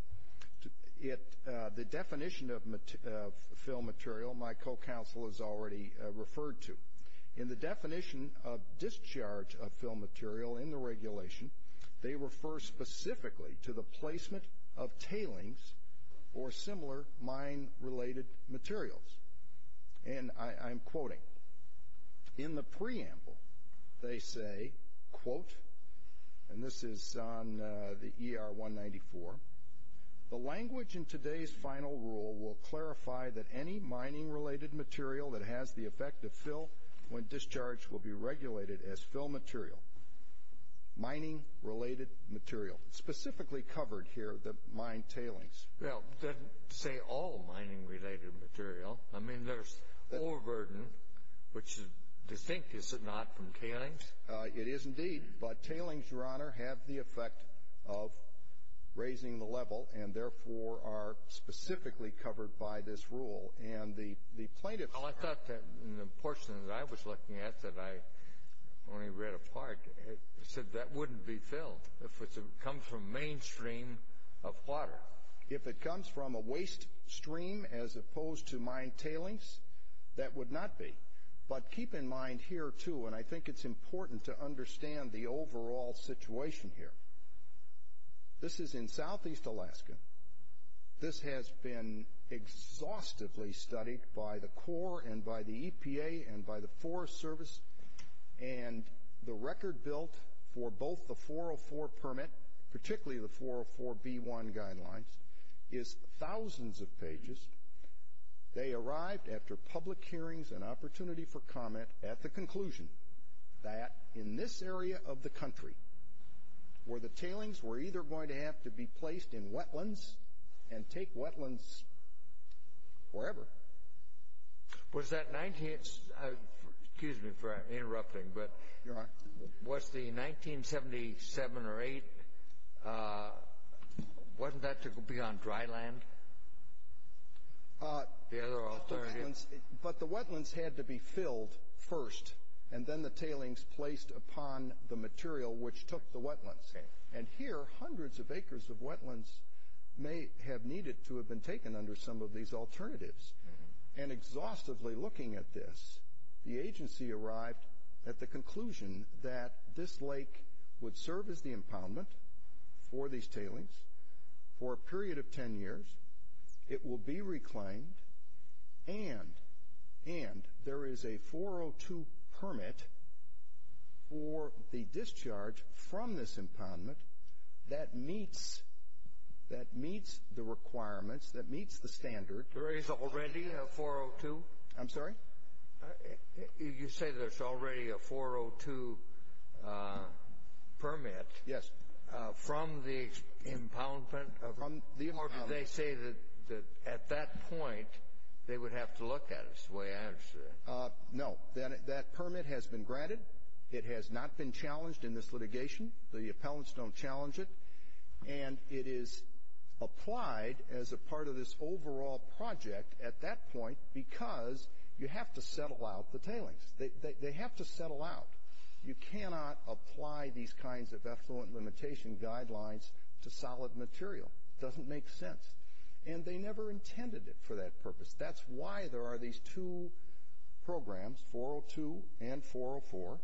It, the definition of fill material, my co-counsel has already referred to. In the definition of discharge of fill material in the regulation, they refer specifically to the placement of tailings or similar mine-related materials. And I'm quoting. In the preamble, they say, quote, and this is on the ER-194, the language in today's final rule will clarify that any mining-related material that has the effect of fill when discharge will be regulated as fill material. Mining-related material. Specifically covered here, the mine tailings. Well, say all mining-related material. I mean, there's ore burden, which is distinct, is it not, from tailings? It is indeed. But tailings, Your Honor, have the effect of raising the level and therefore are specifically covered by this rule. And the plaintiff... Well, I thought that in the portion that I was looking at that I only read a part, it said that wouldn't be filled if it comes from mainstream of water. If it comes from a waste stream as opposed to mine tailings, that would not be. But keep in mind here, too, and I think it's important to understand the overall situation here. This is in Southeast Alaska. This has been exhaustively studied by the Corps and by the EPA and by the Forest Service and the record built for both the 404 permit, particularly the 404B1 guidelines, is thousands of pages. They arrived after public hearings and opportunity for comment at the conclusion that in this area of the country, where the tailings were either going to have to be placed in wetlands and take wetlands forever. Was that... Excuse me for interrupting, but was the 1977 or 8, wasn't that to be on dry land, the other alternative? But the wetlands had to be filled first and then the tailings placed upon the material which took the wetlands. And here, hundreds of acres of wetlands may have needed to have been taken under some of these alternatives. And exhaustively looking at this, the agency arrived at the conclusion that this lake would serve as the impoundment for these tailings for a period of 10 years. It will be reclaimed and there is a 402 permit for the discharge from this impoundment that meets the requirements, that meets the standard. There is already a 402? I'm sorry? You say there's already a 402 permit? Yes. From the impoundment? They say that at that point, they would have to look at it. No, that permit has been granted. It has not been challenged in this litigation. The appellants don't challenge it. And it is applied as a part of this overall project at that point because you have to settle out the tailings. They have to settle out. You cannot apply these kinds of effluent limitation guidelines to solid material. It doesn't make sense. And they never intended it for that purpose. That's why there are these two programs, 402 and 404.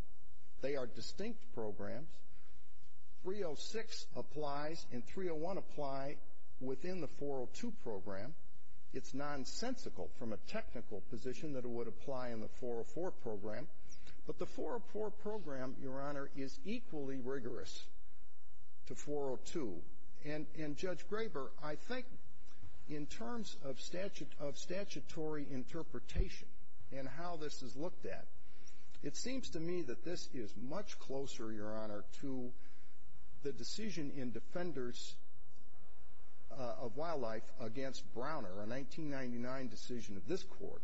They are distinct programs. 306 applies and 301 apply within the 402 program. It's nonsensical from a technical position that it would apply in the 404 program. But the 404 program, Your Honor, is equally rigorous to 402. And Judge Graber, I think in terms of statutory interpretation and how this is looked at, it seems to me that this is much closer, Your Honor, to the decision in Defenders of Wildlife against Browner, a 1999 decision of this court,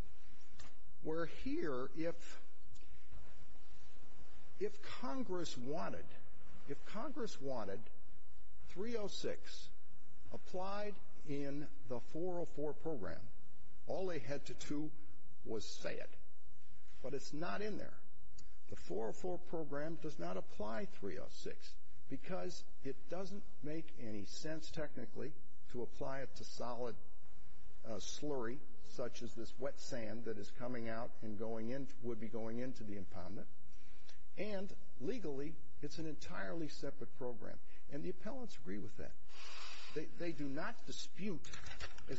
where here if Congress wanted 306 applied in the 404 program, all they had to do was say it. But it's not in there. The 404 program does not apply 306 because it doesn't make any sense technically to apply it to solid slurry such as this wet sand that is coming out and would be going into the impoundment. And legally, it's an entirely separate program. And the appellants agree with that. They do not dispute. In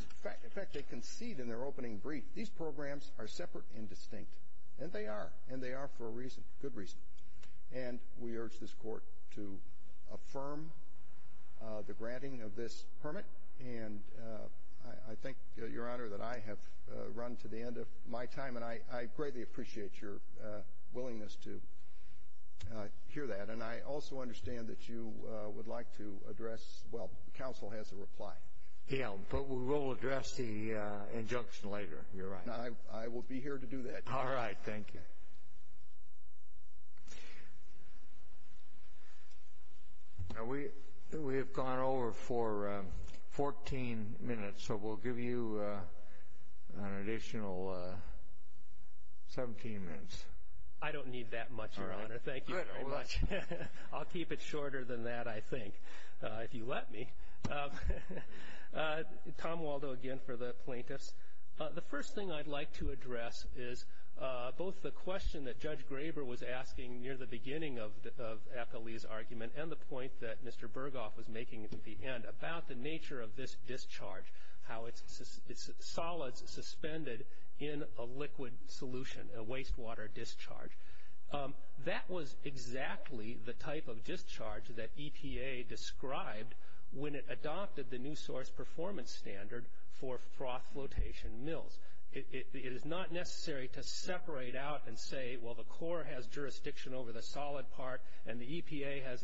fact, they concede in their opening brief. These programs are separate and distinct. And they are. And they are for a reason, good reason. And we urge this court to affirm the granting of this permit. And I think, Your Honor, that I have run to the end of my time. And I greatly appreciate your willingness to hear that. And I also understand that you would like to address – well, the counsel has a reply. Yeah, but we will address the injunction later. You're right. I will be here to do that. All right. Thank you. Now, we have gone over for 14 minutes. So we'll give you an additional 17 minutes. I don't need that much, Your Honor. Thank you very much. I'll keep it shorter than that, I think, if you let me. Tom Waldo again for the plaintiffs. The first thing I'd like to address is both the question that Judge Graber was asking near the beginning of Athalee's argument and the point that Mr. Berghoff was making at the end about the nature of this discharge, how it's solid suspended in a liquid solution, a wastewater discharge. That was exactly the type of discharge that EPA described when it adopted the new source performance standard for froth flotation mills. It is not necessary to separate out and say, well, the Corps has jurisdiction over the solid part and the EPA has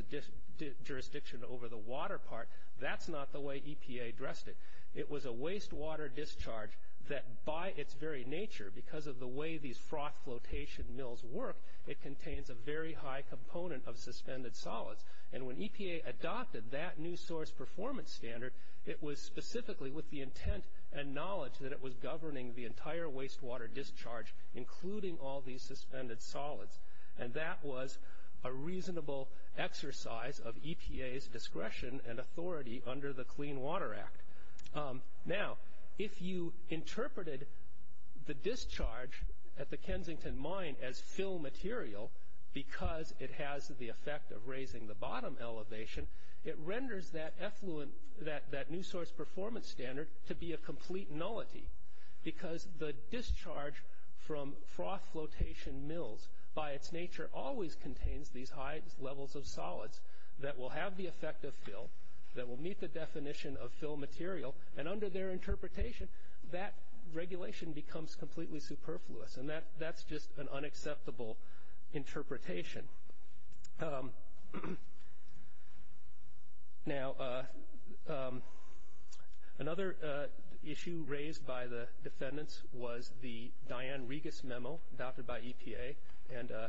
jurisdiction over the water part. That's not the way EPA addressed it. It was a wastewater discharge that by its very nature, because of the way these froth flotation mills work, it contains a very high component of suspended solids. When EPA adopted that new source performance standard, it was specifically with the intent and knowledge that it was governing the entire wastewater discharge, including all these suspended solids. That was a reasonable exercise of EPA's discretion and authority under the Clean Water Act. Now, if you interpreted the discharge at the Kensington Mine as fill material, because it has the effect of raising the bottom elevation, it renders that new source performance standard to be a complete nullity, because the discharge from froth flotation mills by its nature always contains these high levels of solids that will have the effect of fill, that will meet the definition of fill material, and under their interpretation, that regulation becomes completely superfluous. That's just an unacceptable interpretation. Another issue raised by the defendants was the Diane Regas memo adopted by EPA.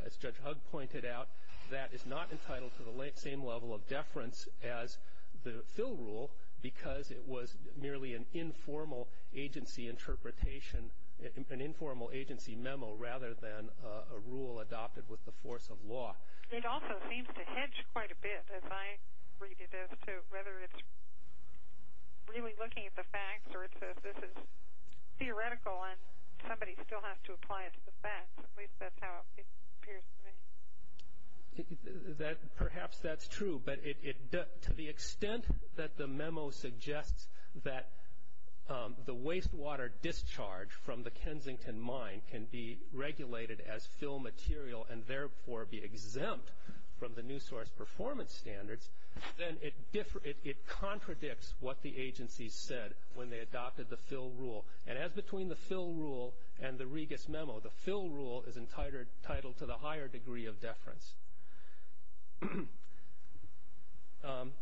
As Judge Hugg pointed out, that is not entitled to the same level of deference as the fill rule, because it was merely an informal agency interpretation, an informal agency memo, rather than a rule adopted with the force of law. It also seems to hedge quite a bit, as I read it as to whether it's really looking at the facts or it's that this is theoretical and somebody still has to apply it to the facts. At least that's how it appears to me. Perhaps that's true, but to the extent that the memo suggests that the wastewater discharge from the Kensington Mine can be regulated as fill material and therefore be exempt from the new source performance standards, then it contradicts what the agency said when they adopted the fill rule. As between the fill rule and the Regas memo, the fill rule is entitled to the higher degree of deference.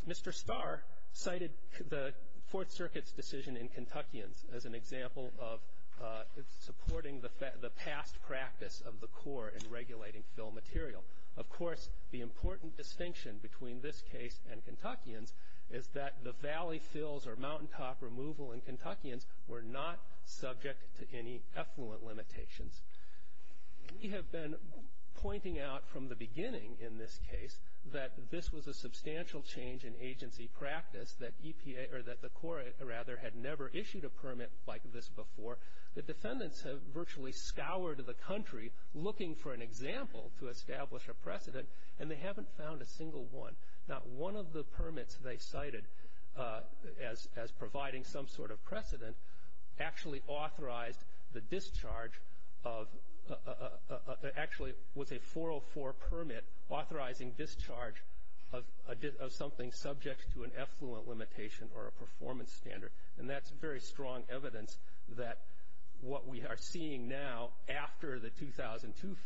Mr. Starr cited the Fourth Circuit's decision in Kentuckians as an example of supporting the past practice of the court in regulating fill material. Of course, the important distinction between this case and Kentuckians is that the valley fills or mountaintop removal in Kentuckians were not subject to any effluent limitations. We have been pointing out from the beginning in this case that this was a substantial change in agency practice, that the court had never issued a permit like this before. The defendants have virtually scoured the country looking for an example to establish a precedent, and they haven't found a single one. Not one of the permits they cited as providing some sort of precedent actually authorized the discharge of, actually with a 404 permit, authorizing discharge of something subject to an effluent limitation or a performance standard. That's very strong evidence that what we are seeing now after the 2002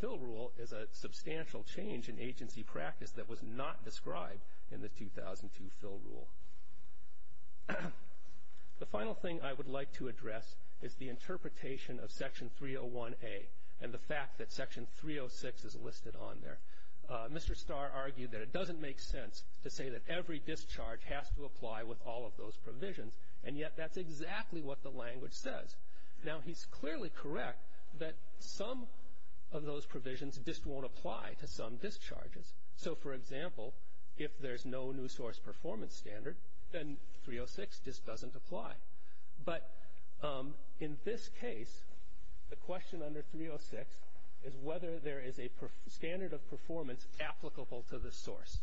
fill rule is a substantial change in agency practice that was not described in the 2002 fill rule. The final thing I would like to address is the interpretation of Section 301A and the fact that Section 306 is listed on there. Mr. Starr argued that it doesn't make sense to say that every discharge has to apply with all of those provisions, and yet that's exactly what the language says. Now he's clearly correct that some of those provisions just won't apply to some discharges. For example, if there's no new source performance standard, then 306 just doesn't apply. In this case, the question under 306 is whether there is a standard of performance applicable to the source.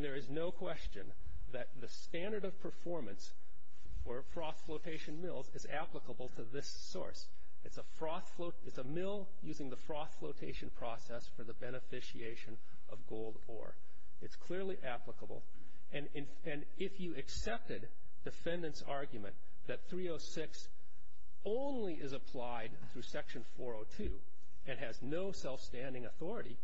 There is no question that the standard of performance for froth flotation mills is applicable to this source. It's a mill using the froth flotation process for the beneficiation of gold ore. It's clearly applicable, and if you accepted the defendant's argument that 306 only is applied through Section 402 and has no self-standing authority,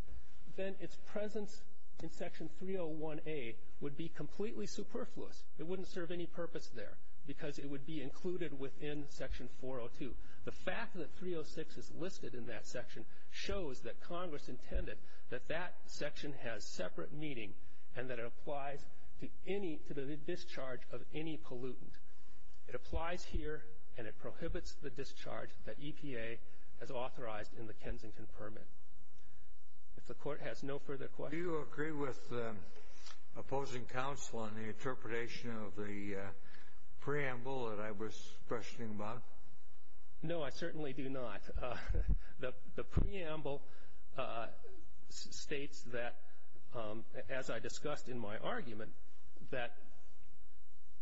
then its presence in Section 301A would be completely superfluous. It wouldn't serve any purpose there because it would be included within Section 402. The fact that 306 is listed in that section shows that Congress intended that that section has separate meaning and that it applies to the discharge of any pollutant. It applies here, and it prohibits the discharge that EPA has authorized in the Kensington Permit. The Court has no further questions. Do you agree with opposing counsel on the interpretation of the preamble that I was questioning, Bob? No, I certainly do not. The preamble states that, as I discussed in my argument, that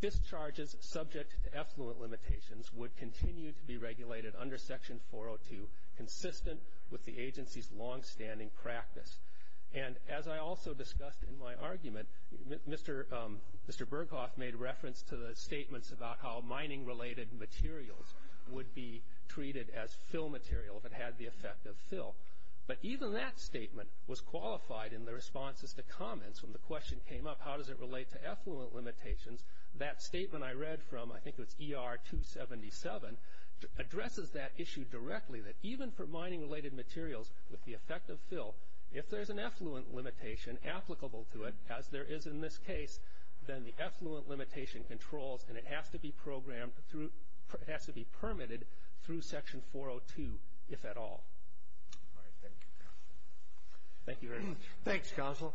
discharges subject to effluent limitations would continue to be regulated under Section 402 consistent with the agency's longstanding practice. As I also discussed in my argument, Mr. Berghoff made reference to the statements about how materials would be treated as fill material if it had the effect of fill, but even that statement was qualified in the responses to comments when the question came up, how does it relate to effluent limitations? That statement I read from, I think it was ER 277, addresses that issue directly, that even for mining-related materials with the effect of fill, if there's an effluent limitation applicable to it, as there is in this case, then the effluent limitation controls and has to be permitted through Section 402, if at all. Thank you very much. Thanks, counsel.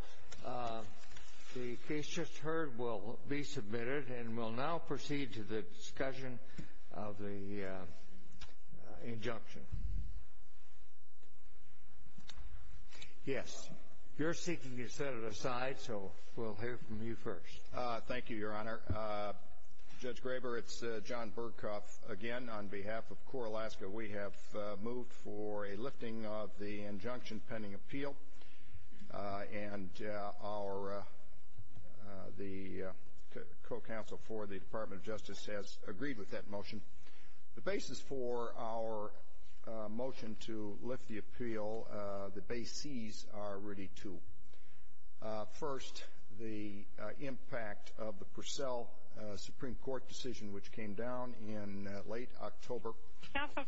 The case just heard will be submitted, and we'll now proceed to the discussion of the injunction. Yes. Your speaking is set aside, so we'll hear from you first. Thank you, Your Honor. Judge Graber, it's John Berghoff again. On behalf of CORE Alaska, we have moved for a lifting of the injunction pending appeal, and the co-counsel for the Department of Justice has agreed with that motion. The basis for our motion to lift the appeal, the basees are rooted to. First, the impact of the Purcell Supreme Court decision, which came down in late October. Counsel,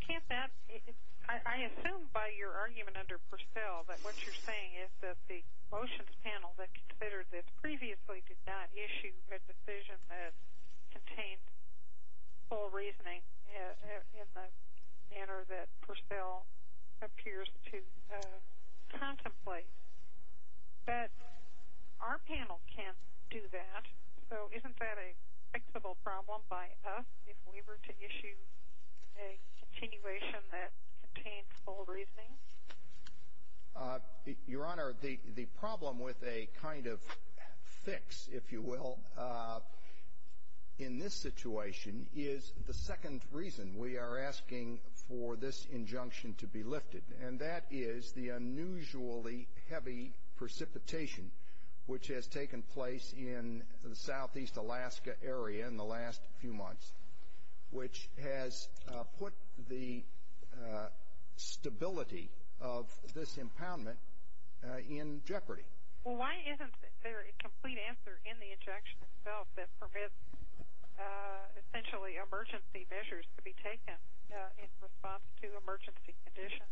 I assume by your argument under Purcell that what you're saying is that the motions panel that considered this previously did not issue a decision that contained full reasoning in the manner that Purcell appears to contemplate. But our panel can't do that, so isn't that a fixable problem by us if we were to issue a continuation that contains full reasoning? Your Honor, the problem with a kind of fix, if you will, in this situation is the second reason we are asking for this injunction to be lifted, and that is the unusually heavy precipitation which has taken place in the Southeast Alaska area in the last few months, which has put the stability of this impoundment in jeopardy. Well, why isn't there a complete answer in the injunction itself that permits essentially emergency measures to be taken in response to emergency conditions?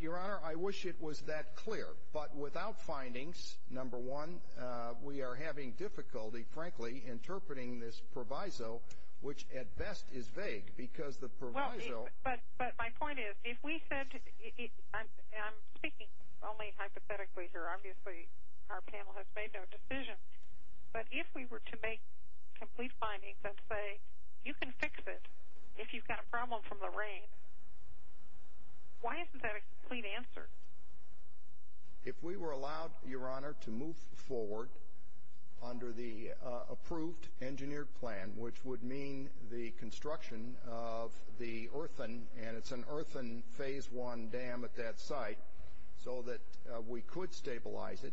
Your Honor, I wish it was that clear. But without findings, number one, we are having difficulty, frankly, interpreting this proviso, which at best is vague because the proviso... But my point is, if we said, and I'm speaking only hypothetically here, obviously our panel has made no decision, but if we were to make complete findings and say, you can fix it if you've got a problem from the rain, why isn't that a complete answer? If we were allowed, Your Honor, to move forward under the approved engineered plan, which would mean the construction of the earthen, and it's an earthen phase one dam at that site, so that we could stabilize it,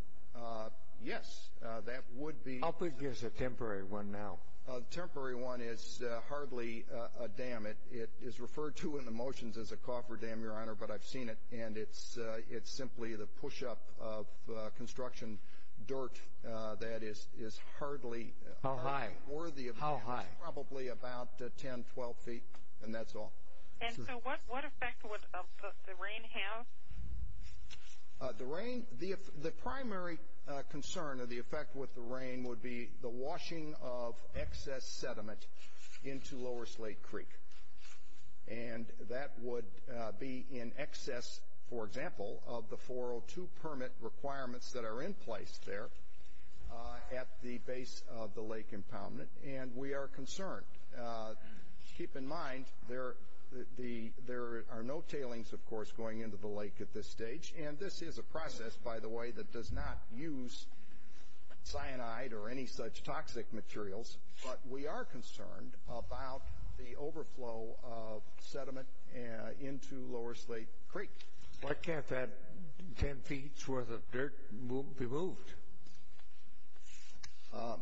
yes, that would be... How big is a temporary one now? A temporary one is hardly a dam. It is referred to in the motions as a cofferdam, Your Honor, but I've seen it, and it's simply the push-up of construction dirt that is hardly... How high? How high? Probably about 10, 12 feet, and that's all. What effect would the rain have? The primary concern of the effect with the rain would be the washing of excess sediment into Lower Slate Creek, and that would be in excess, for example, of the 402 permit requirements that are in place there at the base of the lake impoundment, and we are concerned. Keep in mind, there are no tailings, of course, going into the lake at this stage, and this is a process, by the way, that does not use cyanide or any such toxic materials, but we are concerned about the overflow of sediment into Lower Slate Creek. Why can't that 10 feet's worth of dirt be moved?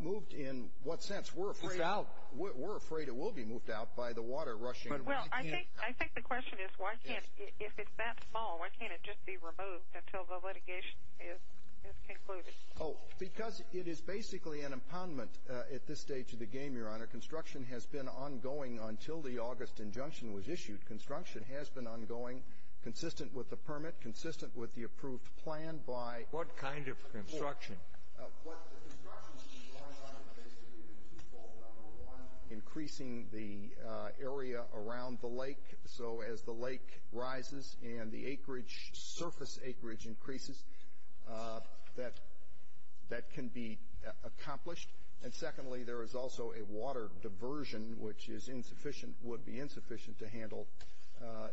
Moved in what sense? We're afraid it will be moved out by the water rushing in. I think the question is, if it's that small, why can't it just be removed until the litigation is concluded? Because it is basically an impoundment at this stage of the game, Your Honor. Construction has been ongoing until the August injunction was issued. Construction has been ongoing, consistent with the permit, consistent with the approved plan by... What kind of construction? What kind of construction? Basically, this is fault number one, increasing the area around the lake, so as the lake rises and the surface acreage increases, that can be accomplished. Secondly, there is also a water diversion, which would be insufficient to handle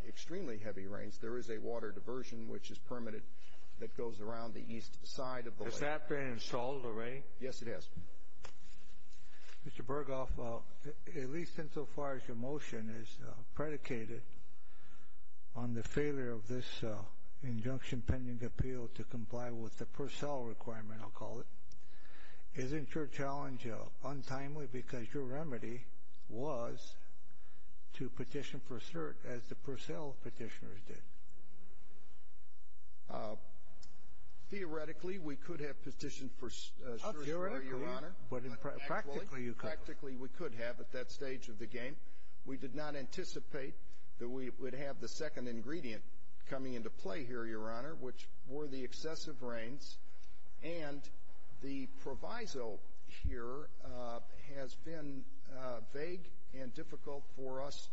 extremely heavy rains. There is a water diversion, which is permitted, that goes around the east side of the lake. Does that then solve the rain? Yes, it does. Mr. Berghoff, at least insofar as your motion is predicated on the failure of this injunction pending appeal to comply with the Purcell requirement, I'll call it, isn't your challenge untimely because your remedy was to petition for cert as the Purcell petitioners did? Theoretically, we could have petitioned for cert as well, Your Honor. Theoretically? Practically, you could. Practically, we could have at that stage of the game. We did not anticipate that we would have the second ingredient coming into play here, Your Honor, which were the excessive rains, and the proviso here has been vague and difficult for us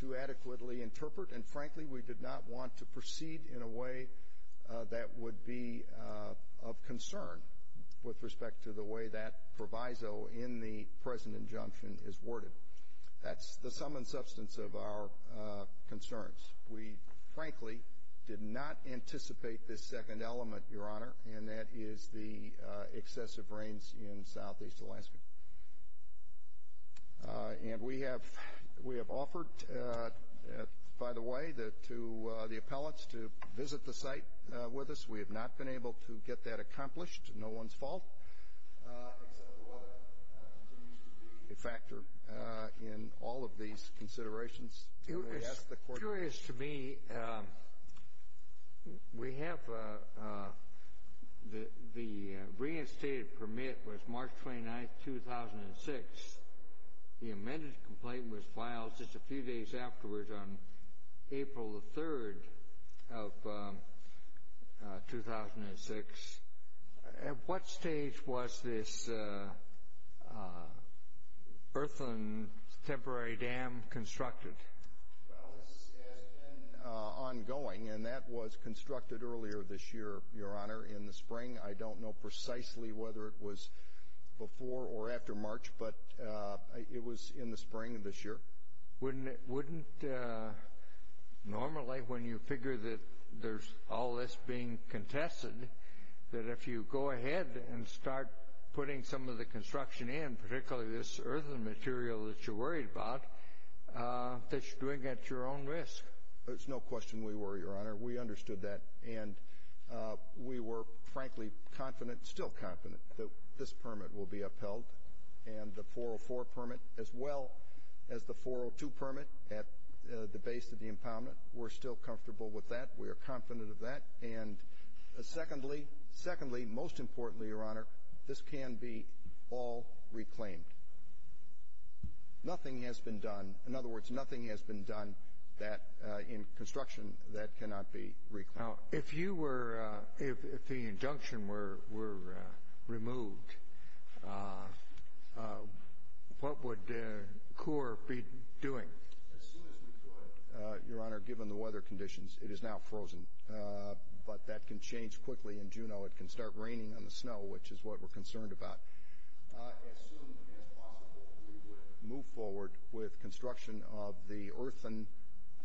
to adequately interpret, and frankly, we did not want to proceed in a way that would be of concern with respect to the way that proviso in the present injunction is worded. That's the sum and substance of our concerns. We frankly did not anticipate this second element, Your Honor, and that is the excessive rains in southeast Alaska. And we have offered, by the way, to the appellants to visit the site with us. We have not been able to get that accomplished. No one's fault. The water continues to be a factor in all of these considerations. It's curious to me, we have the reinstated permit was March 29th, 2006. The amended complaint was filed just a few days afterwards on April 3rd of 2006. At what stage was this earthen temporary dam constructed? Well, this has been ongoing, and that was constructed earlier this year, Your Honor, in the spring. I don't know precisely whether it was before or after March, but it was in the spring of this year. Wouldn't normally, when you figure that there's all this being contested, that if you go ahead and start putting some of the construction in, particularly this earthen material that you're worried about, that you're doing it at your own risk? There's no question we were, Your Honor. We understood that, and we were frankly confident, still confident, that this permit will be at the base of the impoundment. We're still comfortable with that. We are confident of that. And secondly, most importantly, Your Honor, this can be all reclaimed. Nothing has been done. In other words, nothing has been done in construction that cannot be reclaimed. Now, if you were, if the injunction were removed, what would CORE be doing? As soon as we could, Your Honor, given the weather conditions, it is now frozen. But that can change quickly in Juneau. It can start raining on the snow, which is what we're concerned about. As soon as possible, we would move forward with construction of the earthen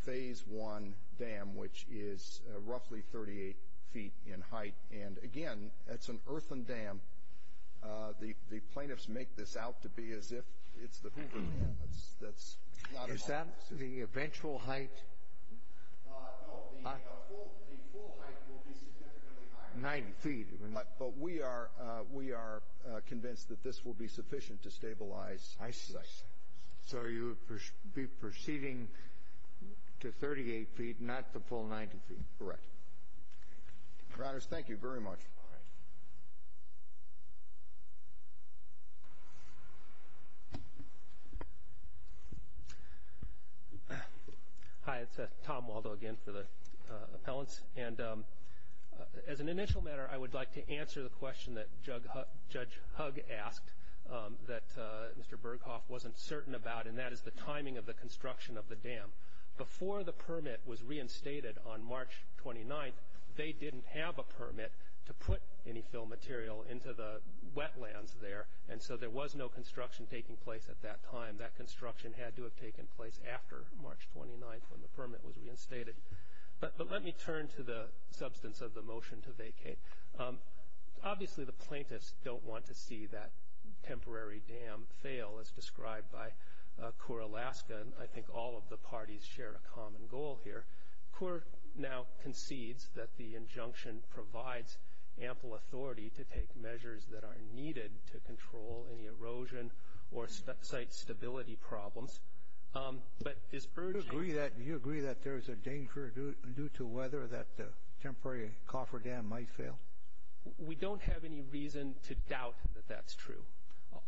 phase one dam, which is roughly 38 feet in height. And again, it's an earthen dam. The plaintiffs make this out to be as if it's the Hoover Dam. Is that the eventual height? No, the full height will be 90 feet. But we are convinced that this will be sufficient to stabilize the site. So you would be proceeding to 38 feet, not the full 90 feet? Correct. Your Honor, thank you very much. Hi, it's Tom Waldo again for the appellants. And as an initial matter, I would like to answer the question that Judge Hugg asked, that Mr. Berghoff wasn't certain about, and that is the timing of the construction of the dam. Before the permit was reinstated on March 29th, they didn't have a permit to put any fill material into the wetlands there. And so there was no construction taking place at that time. That construction had to have taken place after March 29th when the permit was reinstated. But let me turn to the substance of the motion to vacate. Obviously, the plaintiffs don't want to see that temporary dam fail, as described by CORE Alaska. I think all of the parties share a common goal here. CORE now concedes that the injunction provides ample authority to take measures that are needed to control any erosion or site stability problems. Do you agree that there is a danger due to weather that the temporary cofferdam might fail? We don't have any reason to doubt that that's true.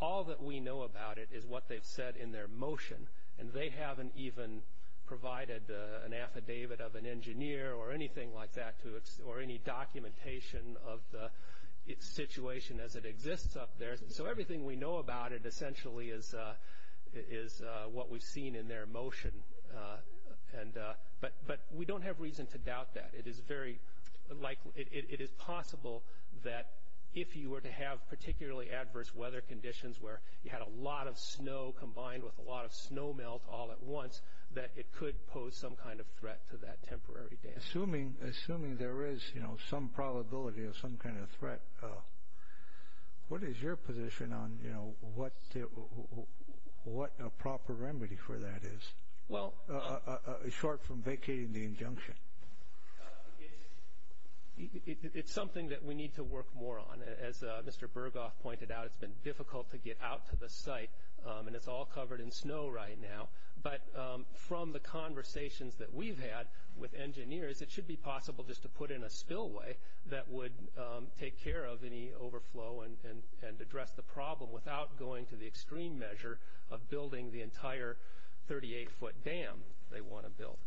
All that we know about it is what they've said in their motion, and they haven't even provided an affidavit of an engineer or anything like that or any documentation of the situation as it exists up there. So everything we know about it essentially is what we've seen in their motion. But we don't have reason to doubt that. It is possible that if you were to have particularly adverse weather conditions where you had a lot of snow combined with a lot of snow melt all at once, that it could pose some kind of threat to that temporary dam. Assuming there is some probability of some kind of threat, what is your position on what the proper remedy for that is, short from vacating the injunction? It's something that we need to work more on. As Mr. Burghoff pointed out, it's been difficult to get out to the site, and it's all covered in snow right now. But from the conversations that we've had with engineers, it should be possible just to put in a spillway that would take care of any overflow and address the problem without going to the extreme measure of building the entire 38-foot dam they want to build.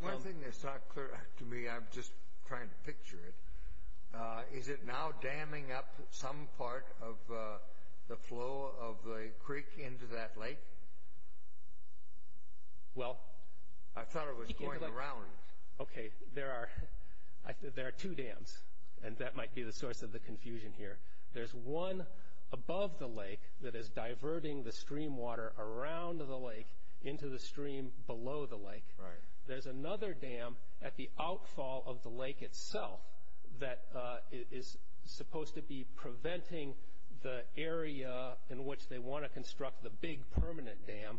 One thing that's not clear to me, I'm just trying to picture it, is it now damming up some part of the flow of the creek into that lake? I thought it was going around. There are two dams, and that might be the source of the confusion here. There's one above the lake that is diverting the stream water around the lake into the stream below the lake. There's another dam at the outfall of the lake itself that is supposed to be preventing the area in which they want to construct the big permanent dam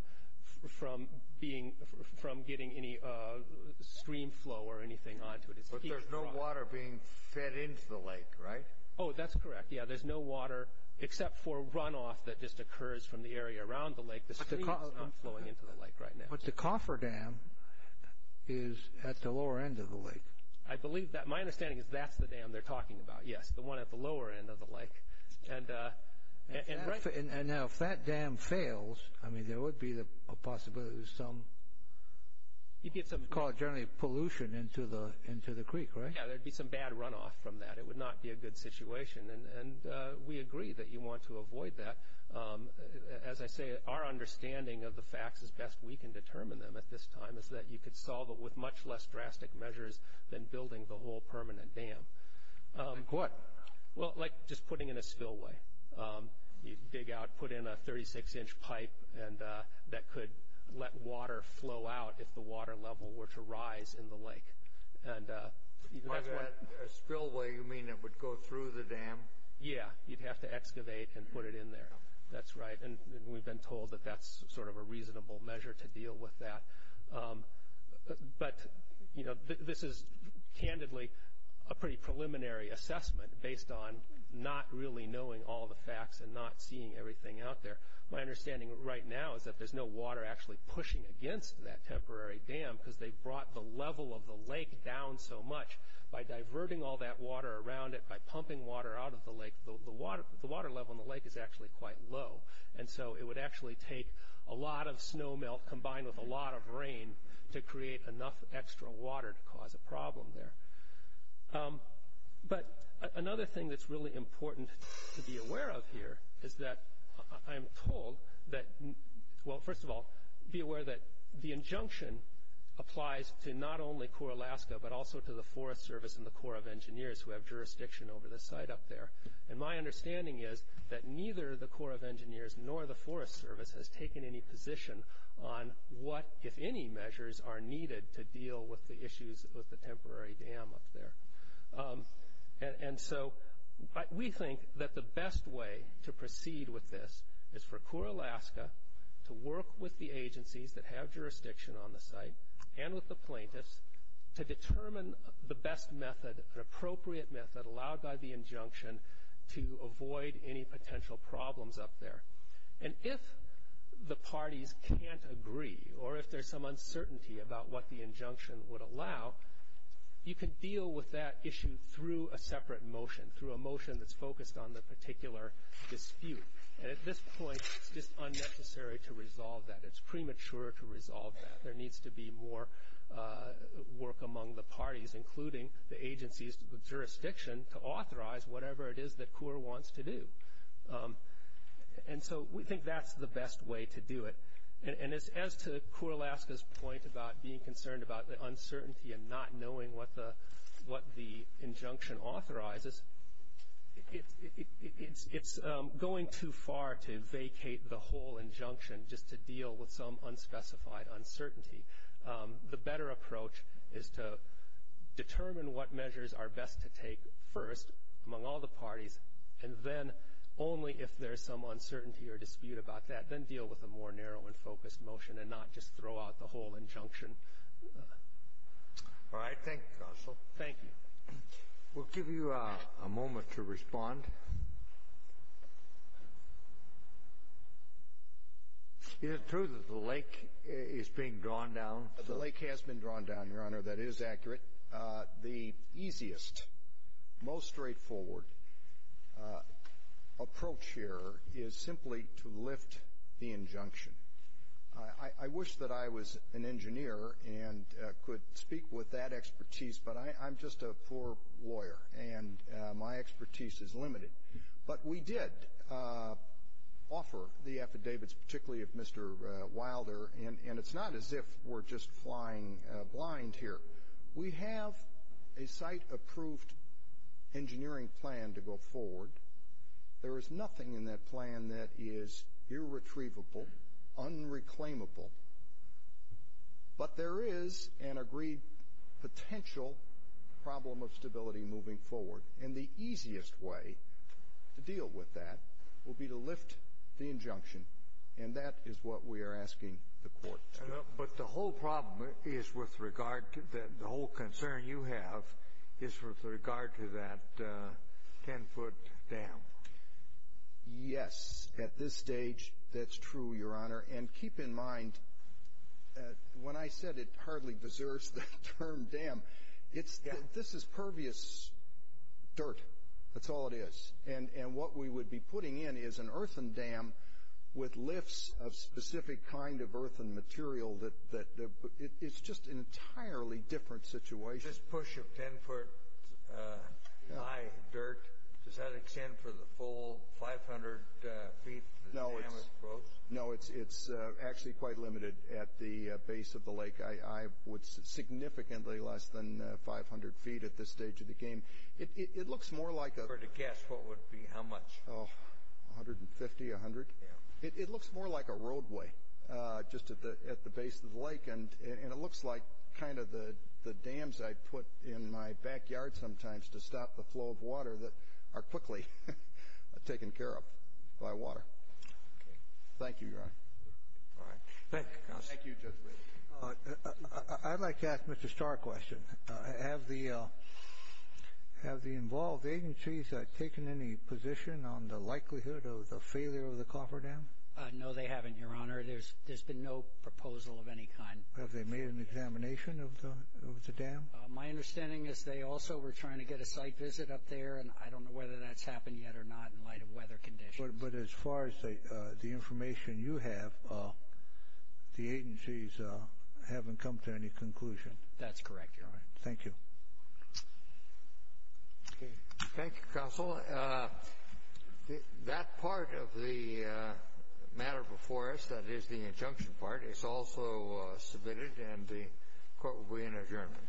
from getting any stream flow or anything onto it. But there's no water being fed into the lake, right? Oh, that's correct. Yeah, there's no water except for runoff that just occurs from the area around the lake. The stream is not flowing into the lake right now. But the coffer dam is at the lower end of the lake. I believe that. My understanding is that's the dam they're talking about. Yes, the one at the lower end of the lake. If that dam fails, there would be a possibility of some, you'd call it generally, pollution into the creek, right? Yeah, there'd be some bad runoff from that. It would not be a good situation. We agree that you want to avoid that. As I say, our understanding of the facts as best we can determine them at this time is that you could solve it with much less drastic measures than building the whole permanent dam. What? Well, like just putting in a spillway. You'd dig out, put in a 36-inch pipe that could let water flow out if the water level were to rise in the lake. By a spillway, you mean it would go through the dam? Yeah, you'd have to excavate and put it in there. That's right, and we've been told that that's sort of a reasonable measure to deal with that. But this is candidly a pretty preliminary assessment based on not really knowing all the facts and not seeing everything out there. My understanding right now is that there's no water actually pushing against that temporary dam because they brought the level of the lake down so much. By diverting all that water around it, by pumping water out of the lake, the water level in the lake is actually quite low, and so it would actually take a lot of snow melt combined with a lot of rain to create enough extra water to cause a problem there. But another thing that's really important to be aware of here is that I'm told that... Well, first of all, be aware that the injunction applies to not only core Alaska but also to the Forest Service and the Corps of Engineers who have jurisdiction over the site up there. My understanding is that neither the Corps of Engineers nor the Forest Service has taken any position on what, if any, measures are needed to deal with the issues of the temporary dam up there. We think that the best way to proceed with this is for core Alaska to work with the agencies that have jurisdiction on the site and with the plaintiffs to determine the best method, the appropriate method allowed by the injunction to avoid any potential problems up there. If the parties can't agree or if there's some uncertainty about what the injunction would allow, you can deal with that issue through a separate motion, through a motion that's focused on the particular dispute. At this point, it's unnecessary to resolve that. It's premature to resolve that. There needs to be more work among the parties, including the agencies with jurisdiction, to authorize whatever it is the Corps wants to do. We think that's the best way to do it. As to core Alaska's point about being concerned about the uncertainty and not knowing what the injunction authorizes, it's going too far to vacate the whole injunction just to deal with some unspecified uncertainty. The better approach is to determine what measures are best to take first among all the parties, and then only if there's some uncertainty or dispute about that, then deal with a more narrow and focused motion and not just throw out the whole injunction. All right. Thank you, Counsel. Thank you. We'll give you a moment to respond. Is it true that the lake is being drawn down? The lake has been drawn down, Your Honor. That is accurate. The easiest, most straightforward approach here is simply to lift the injunction. I wish that I was an engineer and could speak with that expertise, but I'm just a poor lawyer and my expertise is limited. But we did offer the affidavits, particularly of Mr. Wilder, and it's not as if we're just flying blind here. We have a site-approved engineering plan to go forward. There is nothing in that plan that is irretrievable, unreclaimable. But there is an agreed potential problem of stability moving forward, and the easiest way to deal with that would be to lift the injunction, and that is what we are asking the court to do. But the whole problem is with regard to that. The whole concern you have is with regard to that 10-foot dam. Yes, at this stage, that's true, Your Honor. And keep in mind, when I said it hardly deserves the term dam, this is pervious dirt. That's all it is. And what we would be putting in is an earthen dam with lifts of specific kind of earthen material. It's just an entirely different situation. Just push a 10-foot-high dirt, does that extend for the full 500 feet that the dam is broke? No, it's actually quite limited at the base of the lake. I would say significantly less than 500 feet at this stage of the game. It looks more like a roadway just at the base of the lake, and it looks like kind of the dams I put in my backyard sometimes to stop the flow of water that are quickly taken care of by water. Okay. Thank you, Your Honor. All right. Thank you, Counselor. Thank you, Judge Lee. I'd like to ask Mr. Starr a question. Have the involved agencies taken any position on the likelihood of the failure of the cofferdam? No, they haven't, Your Honor. There's been no proposal of any kind. Have they made an examination of the dam? My understanding is they also were trying to get a site visit up there, and I don't know whether that's happened yet or not in light of weather conditions. But as far as the information you have, the agencies haven't come to any conclusion. That's correct, Your Honor. Thank you. Okay. Thank you, Counselor. That part of the matter before us, that is the injunction part, is also submitted, and the court will be in adjournment.